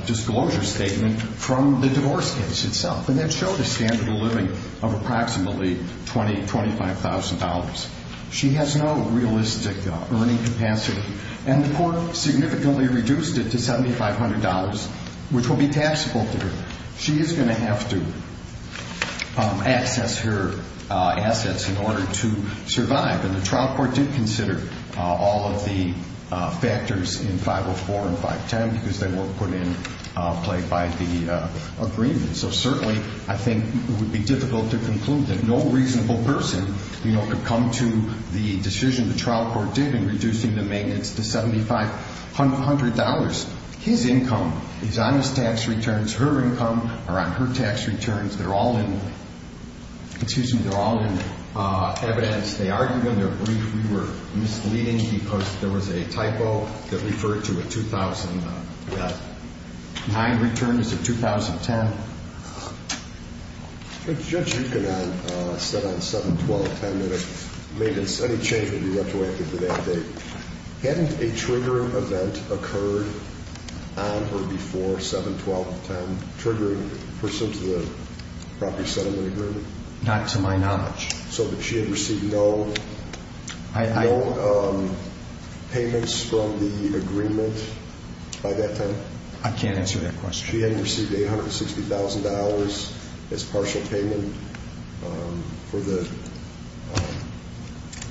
disclosure statement from the divorce case itself, and that showed a standard of living of approximately $20,000, $25,000. She has no realistic earning capacity, and the court significantly reduced it to $7,500, which will be taxable to her. She is going to have to access her assets in order to survive, and the trial court did consider all of the factors in 504 and 510 because they weren't put in play by the agreement. So certainly, I think it would be difficult to conclude that no reasonable person, you know, could come to the decision the trial court did in reducing the maintenance to $7,500. His income is on his tax returns. Her income are on her tax returns. They're all in evidence. They argued in their brief we were misleading because there was a typo that referred to a 2009 return as a 2010. Judge Yukon said on 7-12-10 that it made any change that would be retroactive to that date. Hadn't a trigger event occurred on or before 7-12-10 triggering the person to the property settlement agreement? Not to my knowledge. So that she had received no payments from the agreement by that time? I can't answer that question. She hadn't received $860,000 as partial payment for the,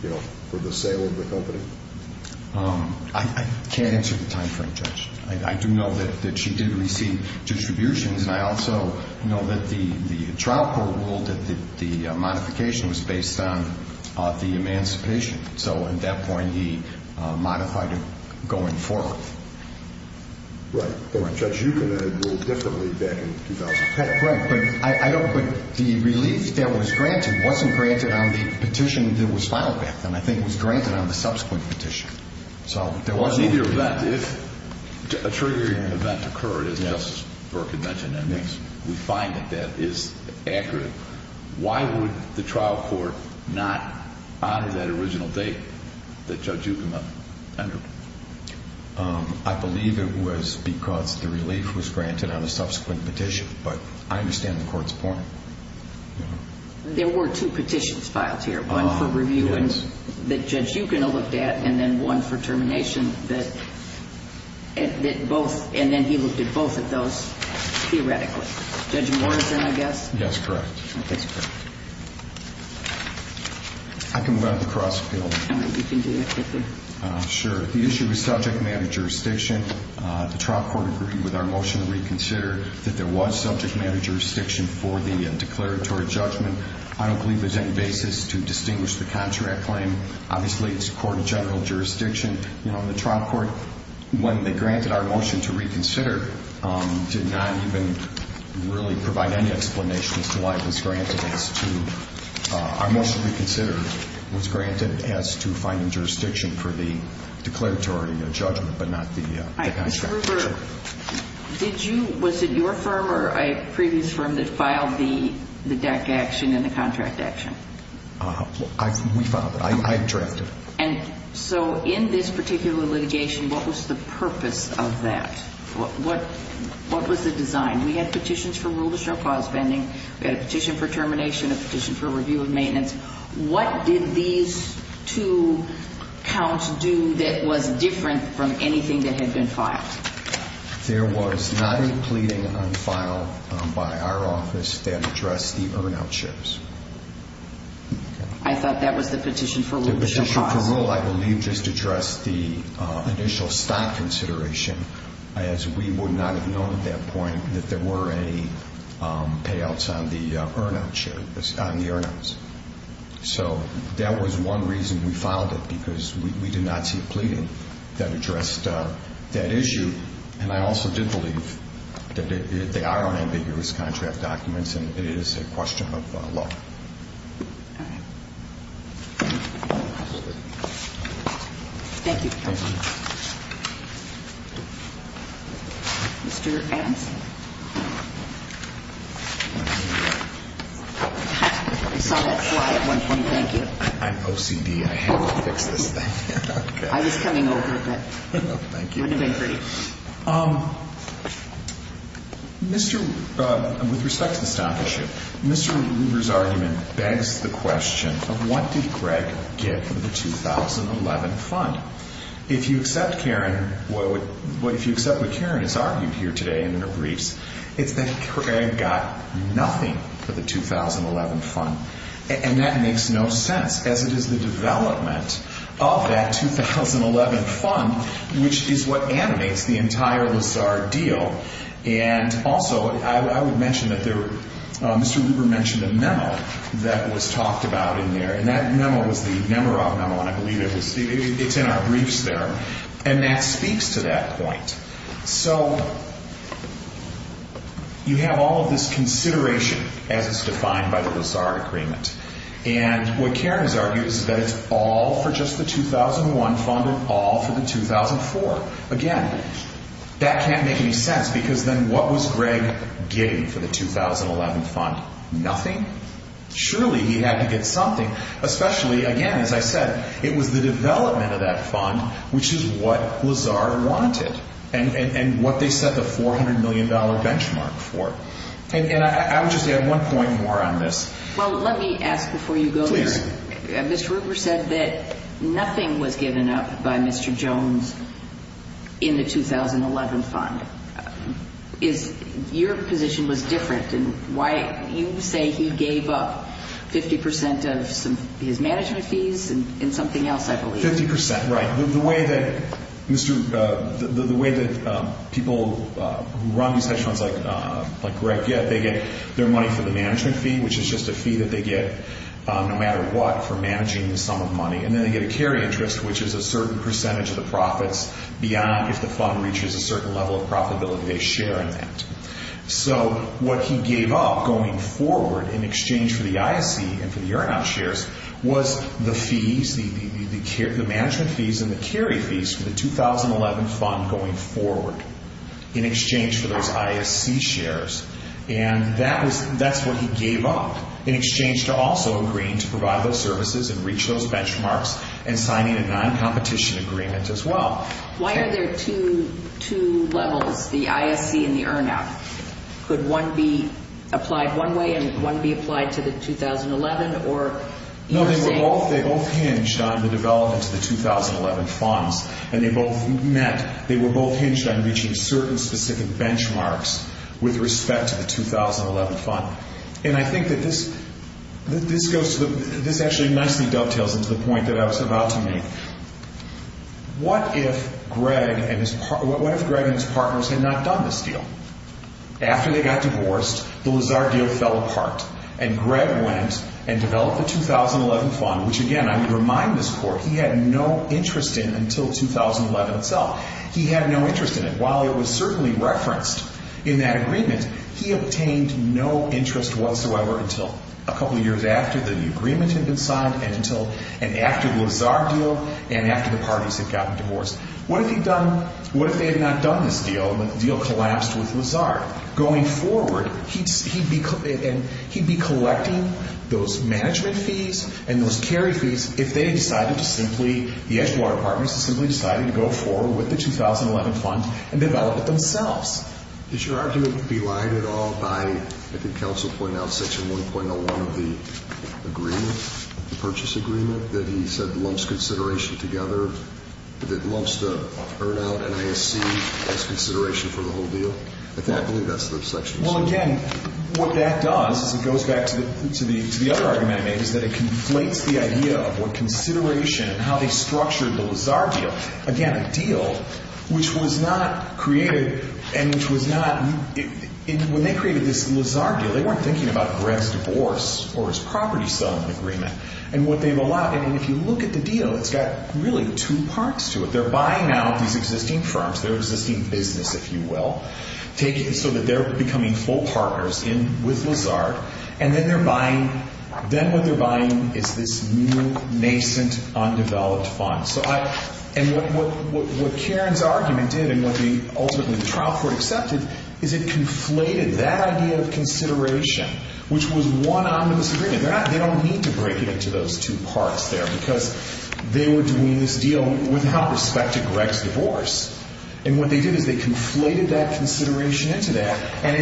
you know, for the sale of the company? I can't answer the timeframe, Judge. I do know that she did receive distributions, and I also know that the trial court ruled that the modification was based on the emancipation. So at that point, he modified it going forward. Right. Judge Yukon had it ruled differently back in 2000. Right. But the relief that was granted wasn't granted on the petition that was filed back then. I think it was granted on the subsequent petition. So there wasn't a trigger event. If a triggering event occurred, as Justice Burke had mentioned, and we find that that is accurate, why would the trial court not honor that original date that Judge Yukon had entered? I believe it was because the relief was granted on the subsequent petition, but I understand the court's point. There were two petitions filed here, one for review that Judge Yukon looked at and then one for termination that both, and then he looked at both of those theoretically. Judge Morrison, I guess? Yes, correct. I can move on to the cross appeal. You can do that quickly. Sure. The issue is subject matter jurisdiction. The trial court agreed with our motion to reconsider that there was subject matter jurisdiction for the declaratory judgment. I don't believe there's any basis to distinguish the contract claim. Obviously, it's court of general jurisdiction. The trial court, when they granted our motion to reconsider, did not even really provide any explanations to why it was granted as to our motion to reconsider was granted as to finding jurisdiction for the declaratory judgment but not the contract. Was it your firm or a previous firm that filed the deck action and the contract action? We filed it. I drafted it. And so in this particular litigation, what was the purpose of that? What was the design? We had petitions for rule-of-show clause vending. We had a petition for termination, a petition for review of maintenance. What did these two counts do that was different from anything that had been filed? There was not a pleading on file by our office that addressed the earn-out shares. The petition for rule, I believe, just addressed the initial stock consideration, as we would not have known at that point that there were any payouts on the earn-out shares, on the earn-outs. So that was one reason we filed it, because we did not see a pleading that addressed that issue. And I also did believe that they are unambiguous contract documents and it is a question of law. All right. Thank you. Thank you. Mr. Anson. I saw that slide at one point. Thank you. I'm OCD. I had to fix this thing. I was coming over, but it wouldn't have been pretty. With respect to the stock issue, Mr. Rueber's argument begs the question of what did Greg get for the 2011 fund. If you accept what Karen has argued here today in her briefs, it's that Greg got nothing for the 2011 fund. And that makes no sense, as it is the development of that 2011 fund, which is what animates the entire Lazard deal. And also, I would mention that Mr. Rueber mentioned a memo that was talked about in there, and that memo was the Nemerov memo, and I believe it's in our briefs there, and that speaks to that point. So you have all of this consideration as it's defined by the Lazard agreement. And what Karen has argued is that it's all for just the 2001 fund and all for the 2004. Again, that can't make any sense, because then what was Greg getting for the 2011 fund? Nothing. Surely he had to get something, especially, again, as I said, it was the development of that fund, which is what Lazard wanted. And what they set the $400 million benchmark for. And I would just add one point more on this. Well, let me ask before you go there. Please. Mr. Rueber said that nothing was given up by Mr. Jones in the 2011 fund. Your position was different in why you say he gave up 50% of his management fees and something else, I believe. 50%, right. The way that people who run these types of funds like Greg get, they get their money for the management fee, which is just a fee that they get no matter what for managing the sum of money. And then they get a carry interest, which is a certain percentage of the profits beyond if the fund reaches a certain level of profitability they share in that. So what he gave up going forward in exchange for the ISC and for the earn-out shares was the fees, the management fees and the carry fees for the 2011 fund going forward in exchange for those ISC shares. And that's what he gave up in exchange to also agreeing to provide those services and reach those benchmarks and signing a non-competition agreement as well. Why are there two levels, the ISC and the earn-out? Could one be applied one way and one be applied to the 2011? No, they were both hinged on the development of the 2011 funds. And they were both hinged on reaching certain specific benchmarks with respect to the 2011 fund. And I think that this actually nicely dovetails into the point that I was about to make. What if Greg and his partners had not done this deal? After they got divorced, the Lazar deal fell apart and Greg went and developed the 2011 fund, which again, I would remind this court, he had no interest in until 2011 itself. He had no interest in it. And while it was certainly referenced in that agreement, he obtained no interest whatsoever until a couple of years after the agreement had been signed and after the Lazar deal and after the parties had gotten divorced. What if they had not done this deal when the deal collapsed with Lazar? Going forward, he'd be collecting those management fees and those carry fees if they had decided to simply, the Edgewater partners had simply decided to go forward with the 2011 fund and develop it themselves. Does your argument be lied at all by, I think counsel pointed out section 1.01 of the agreement, the purchase agreement that he said lumps consideration together, that lumps the earn-out and ISC as consideration for the whole deal? I believe that's the section. Well, again, what that does is it goes back to the other argument I made is that it conflates the idea of what consideration and how they structured the Lazar deal. Again, a deal which was not created and which was not, when they created this Lazar deal, they weren't thinking about Greg's divorce or his property selling agreement. And what they've allowed, and if you look at the deal, it's got really two parts to it. They're buying out these existing firms, their existing business, if you will, so that they're becoming full partners with Lazar. And then what they're buying is this new, nascent, undeveloped fund. And what Karen's argument did and what ultimately the trial court accepted is it conflated that idea of consideration, which was one omnibus agreement. They don't need to break it into those two parts there because they were doing this deal without respect to Greg's divorce. And what they did is they conflated that consideration into that. And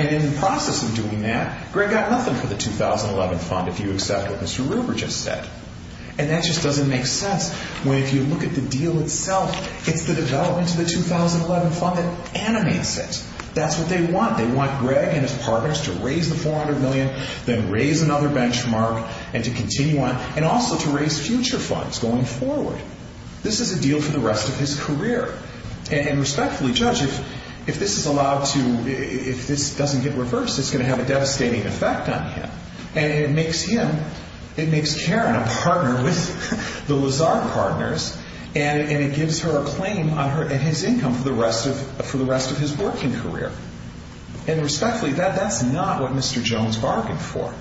in the process of doing that, Greg got nothing for the 2011 fund, if you accept what Mr. Ruber just said. And that just doesn't make sense when, if you look at the deal itself, it's the development of the 2011 fund that animates it. That's what they want. They want Greg and his partners to raise the $400 million, then raise another benchmark, and to continue on, and also to raise future funds going forward. This is a deal for the rest of his career. And respectfully, Judge, if this is allowed to, if this doesn't get reversed, it's going to have a devastating effect on him. And it makes him, it makes Karen a partner with the Lazard partners, and it gives her a claim on his income for the rest of his working career. And respectfully, that's not what Mr. Jones bargained for.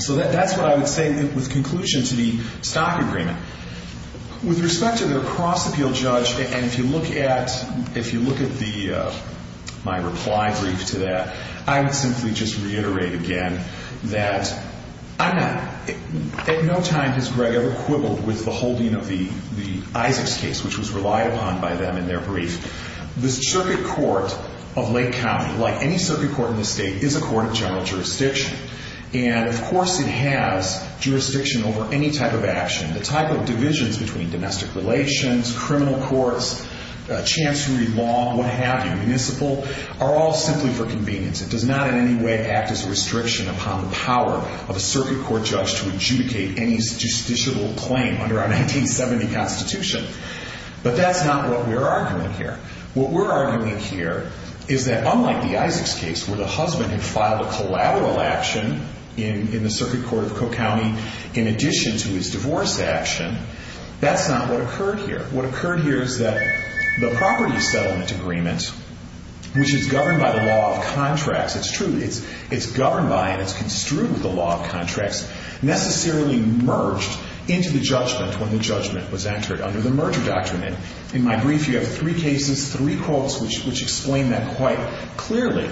So that's what I would say with conclusion to the stock agreement. With respect to the cross-appeal, Judge, and if you look at the, my reply brief to that, I would simply just reiterate again that I'm not, at no time has Greg ever quibbled with the holding of the Isaacs case, which was relied upon by them in their brief. The circuit court of Lake County, like any circuit court in the state, is a court of general jurisdiction. And, of course, it has jurisdiction over any type of action. The type of divisions between domestic relations, criminal courts, chancery law, what have you, municipal, are all simply for convenience. It does not in any way act as a restriction upon the power of a circuit court judge to adjudicate any justiciable claim under our 1970 Constitution. But that's not what we're arguing here. What we're arguing here is that, unlike the Isaacs case, where the husband had filed a collateral action in the circuit court of Cook County, in addition to his divorce action, that's not what occurred here. What occurred here is that the property settlement agreement, which is governed by the law of contracts, it's true, it's governed by and it's construed with the law of contracts, necessarily merged into the judgment when the judgment was entered under the merger doctrine. And in my brief, you have three cases, three quotes, which explain that quite clearly.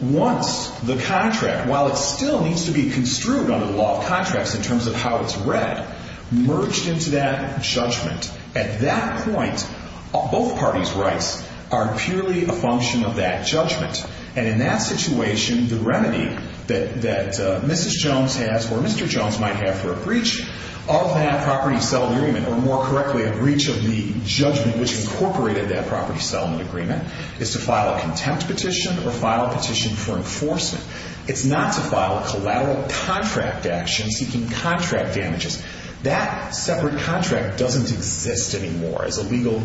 Once the contract, while it still needs to be construed under the law of contracts in terms of how it's read, merged into that judgment, at that point, both parties' rights are purely a function of that judgment. And in that situation, the remedy that Mrs. Jones has or Mr. Jones might have for a breach of that property settlement agreement, or more correctly, a breach of the judgment which incorporated that property settlement agreement, is to file a contempt petition or file a petition for enforcement. It's not to file a collateral contract action seeking contract damages. That separate contract doesn't exist anymore as a legal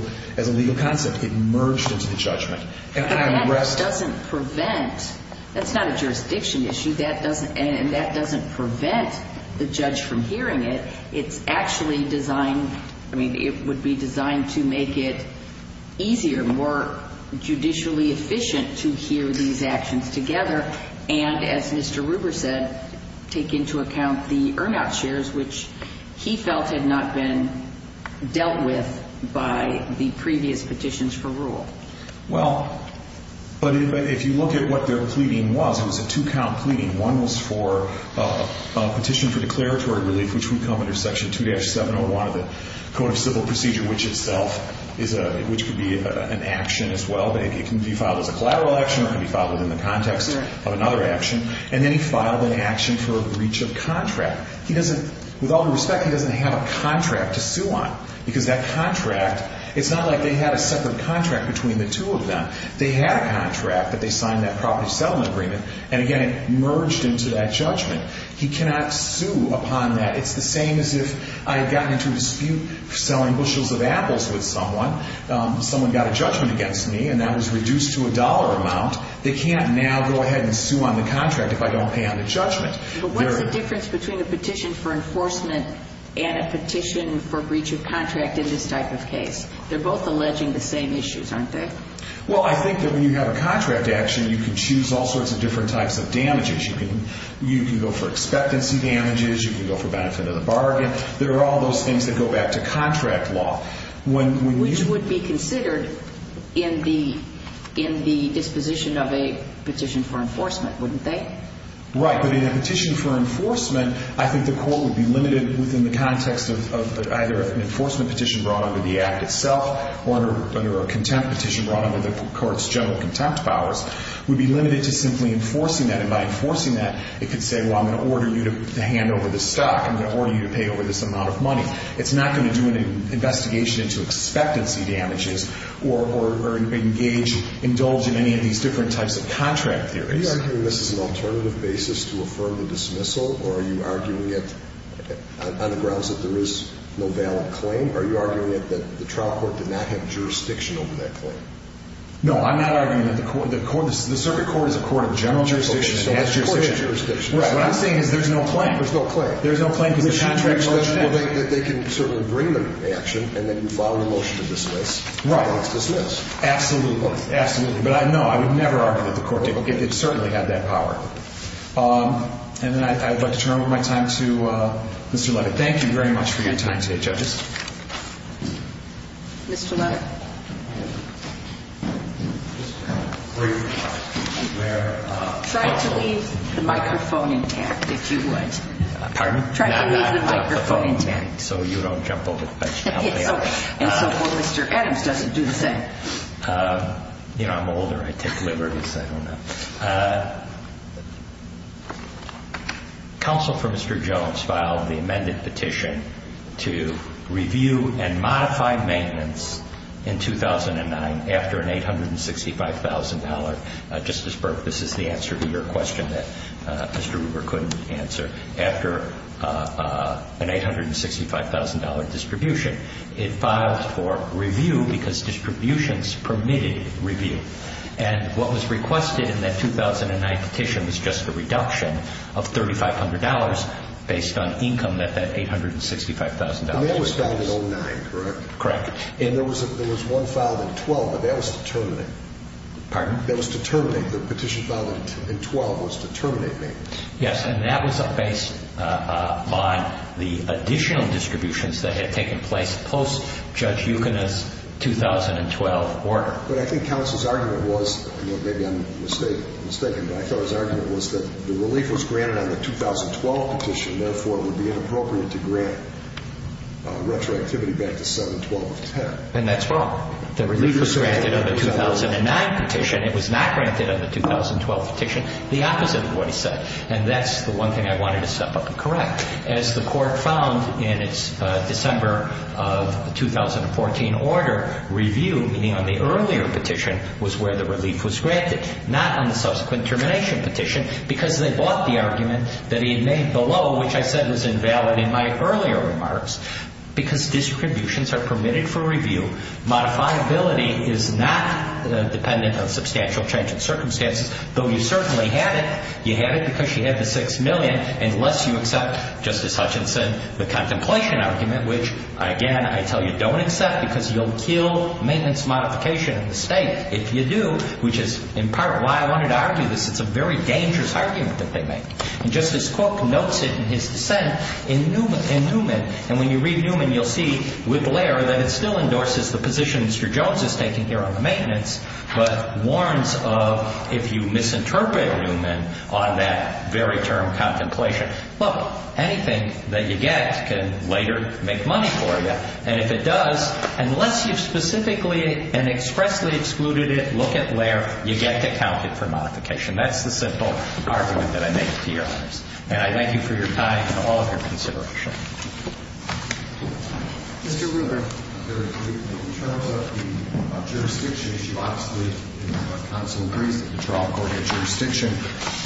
concept. It merged into the judgment. And that doesn't prevent, that's not a jurisdiction issue, and that doesn't prevent the judge from hearing it. It's actually designed, I mean, it would be designed to make it easier, more judicially efficient to hear these actions together and, as Mr. Ruber said, take into account the earn-out shares which he felt had not been dealt with by the previous petitions for rule. Well, but if you look at what their pleading was, it was a two-count pleading. One was for a petition for declaratory relief, which would come under Section 2-701 of the Code of Civil Procedure, which itself is a, which could be an action as well, but it can be filed as a collateral action or it can be filed within the context of another action. And then he filed an action for a breach of contract. He doesn't, with all due respect, he doesn't have a contract to sue on because that contract, it's not like they had a separate contract between the two of them. They had a contract, but they signed that property settlement agreement, and again, it merged into that judgment. He cannot sue upon that. It's the same as if I had gotten into a dispute selling bushels of apples with someone, someone got a judgment against me, and that was reduced to a dollar amount. They can't now go ahead and sue on the contract if I don't pay on the judgment. But what's the difference between a petition for enforcement and a petition for breach of contract in this type of case? They're both alleging the same issues, aren't they? Well, I think that when you have a contract action, you can choose all sorts of different types of damages. You can go for expectancy damages. You can go for benefit of the bargain. There are all those things that go back to contract law. Which would be considered in the disposition of a petition for enforcement, wouldn't they? Right, but in a petition for enforcement, I think the court would be limited within the context of either an enforcement petition brought under the Act itself or under a contempt petition brought under the court's general contempt powers, would be limited to simply enforcing that. And by enforcing that, it could say, well, I'm going to order you to hand over the stock. I'm going to order you to pay over this amount of money. It's not going to do an investigation into expectancy damages or engage, indulge in any of these different types of contract theories. Are you arguing this is an alternative basis to affirm the dismissal? Or are you arguing it on the grounds that there is no valid claim? Are you arguing it that the trial court did not have jurisdiction over that claim? No, I'm not arguing that the circuit court is a court of general jurisdiction. It has jurisdiction. Of course it has jurisdiction. Right. What I'm saying is there's no claim. There's no claim. There's no claim because the contract says so. Well, they can certainly bring the action, and then you file a motion to dismiss. Right. And it's dismissed. Absolutely. Absolutely. But, no, I would never argue that the court did. It certainly had that power. And then I'd like to turn over my time to Mr. Lovett. Thank you very much for your time today, judges. Mr. Lovett. Try to leave the microphone intact, if you would. Pardon? Try to leave the microphone intact. So you don't jump over the fence and help me out. And so Mr. Adams doesn't do the same. I'm older. I take liberties. I don't know. Counsel for Mr. Jones filed the amended petition to review and modify maintenance in 2009 after an $865,000, Justice Burke, this is the answer to your question that Mr. Ruber couldn't answer, after an $865,000 distribution. It filed for review because distributions permitted review. And what was requested in that 2009 petition was just a reduction of $3,500 based on income that that $865,000 was. And that was filed in 09, correct? Correct. And there was one filed in 12, but that was to terminate. Pardon? That was to terminate. The petition filed in 12 was to terminate maintenance. Yes. And that was based on the additional distributions that had taken place post-Judge Yukon's 2012 order. But I think counsel's argument was, maybe I'm mistaken, but I thought his argument was that the relief was granted on the 2012 petition, therefore, it would be inappropriate to grant retroactivity back to 7-12-10. And that's wrong. The relief was granted on the 2009 petition. It was not granted on the 2012 petition. The opposite of what he said. And that's the one thing I wanted to step up and correct. As the Court found in its December of 2014 order, review, meaning on the earlier petition, was where the relief was granted, not on the subsequent termination petition, because they bought the argument that he had made below, which I said was invalid in my earlier remarks. Because distributions are permitted for review, modifiability is not dependent on substantial change in circumstances, though you certainly had it. You had it because you had the $6 million, unless you accept, Justice Hutchinson, the contemplation argument, which, again, I tell you, don't accept, because you'll kill maintenance modification in the State if you do, which is in part why I wanted to argue this. It's a very dangerous argument that they make. And Justice Cook notes it in his dissent in Newman. And when you read Newman, you'll see, with Blair, that it still endorses the position Mr. Jones is taking here on the maintenance, but warns of, if you misinterpret Newman on that very term, contemplation, look, anything that you get can later make money for you. And if it does, unless you've specifically and expressly excluded it, look at Blair, you get to count it for modification. That's the simple argument that I make to Your Honors. And I thank you for your time and all of your consideration. Mr. Rubin. In terms of the jurisdiction issue, obviously the counsel agrees that the trial court had jurisdiction.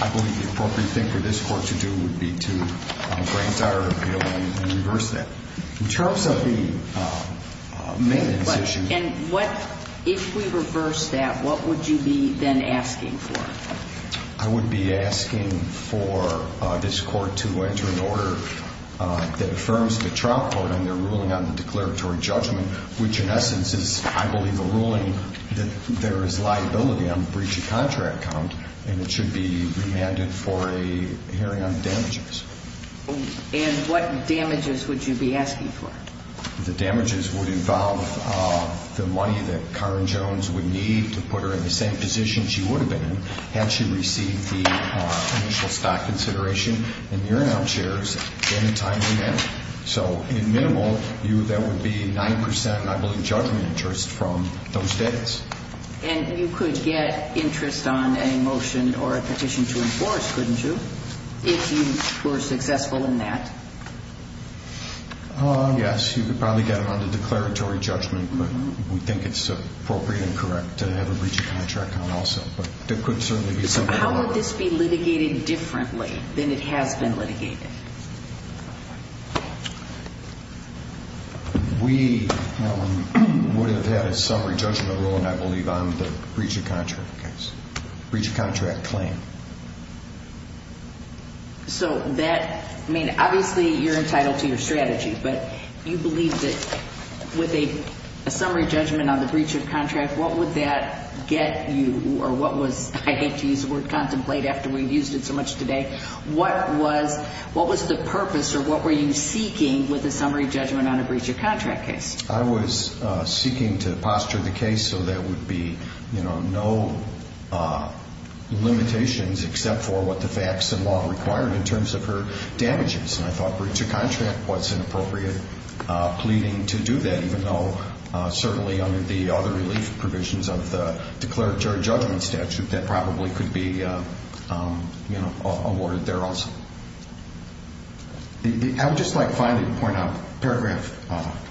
I believe the appropriate thing for this Court to do would be to grant our appeal and reverse that. In terms of the maintenance issue. And what, if we reverse that, what would you be then asking for? I would be asking for this Court to enter an order that affirms the trial court and their ruling on the declaratory judgment, which in essence is, I believe, a ruling that there is liability on the breach of contract count and it should be remanded for a hearing on the damages. And what damages would you be asking for? The damages would involve the money that Karen Jones would need to put her in the same position she would have been in had she received the initial stock consideration in your now shares in a timely manner. So in minimal, that would be 9%, I believe, judgment interest from those days. And you could get interest on a motion or a petition to enforce, couldn't you? If you were successful in that. Yes, you could probably get it on the declaratory judgment, but we think it's appropriate and correct to have a breach of contract count also. But there could certainly be some follow-up. How would this be litigated differently than it has been litigated? We would have had a summary judgment ruling, I believe, on the breach of contract case, breach of contract claim. So that, I mean, obviously you're entitled to your strategy, but you believe that with a summary judgment on the breach of contract, what would that get you or what was, I hate to use the word contemplate after we've used it so much today, what was the purpose or what were you seeking with a summary judgment on a breach of contract case? I was seeking to posture the case so there would be no limitations except for what the facts and law required in terms of her damages. And I thought breach of contract was an appropriate pleading to do that, even though certainly under the other relief provisions of the declaratory judgment statute, that probably could be awarded there also. I would just like finally to point out paragraph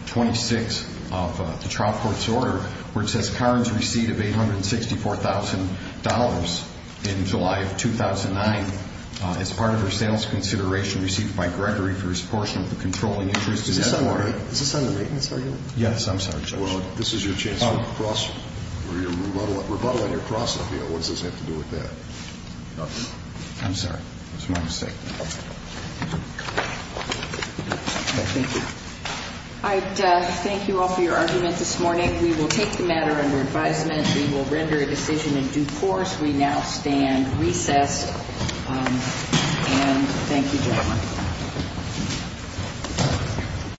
26 of the trial court's order, where it says Karen's receipt of $864,000 in July of 2009 as part of her sales consideration received by Gregory for his portion of the controlling interest in that order. Is this under the rateness argument? Yes, I'm sorry, Judge. Well, this is your chance to cross or your rebuttal on your cross-up. What does this have to do with that? I'm sorry. It's my mistake. Thank you. I thank you all for your argument this morning. We will take the matter under advisement. We will render a decision in due course. We now stand recessed. And thank you, gentlemen.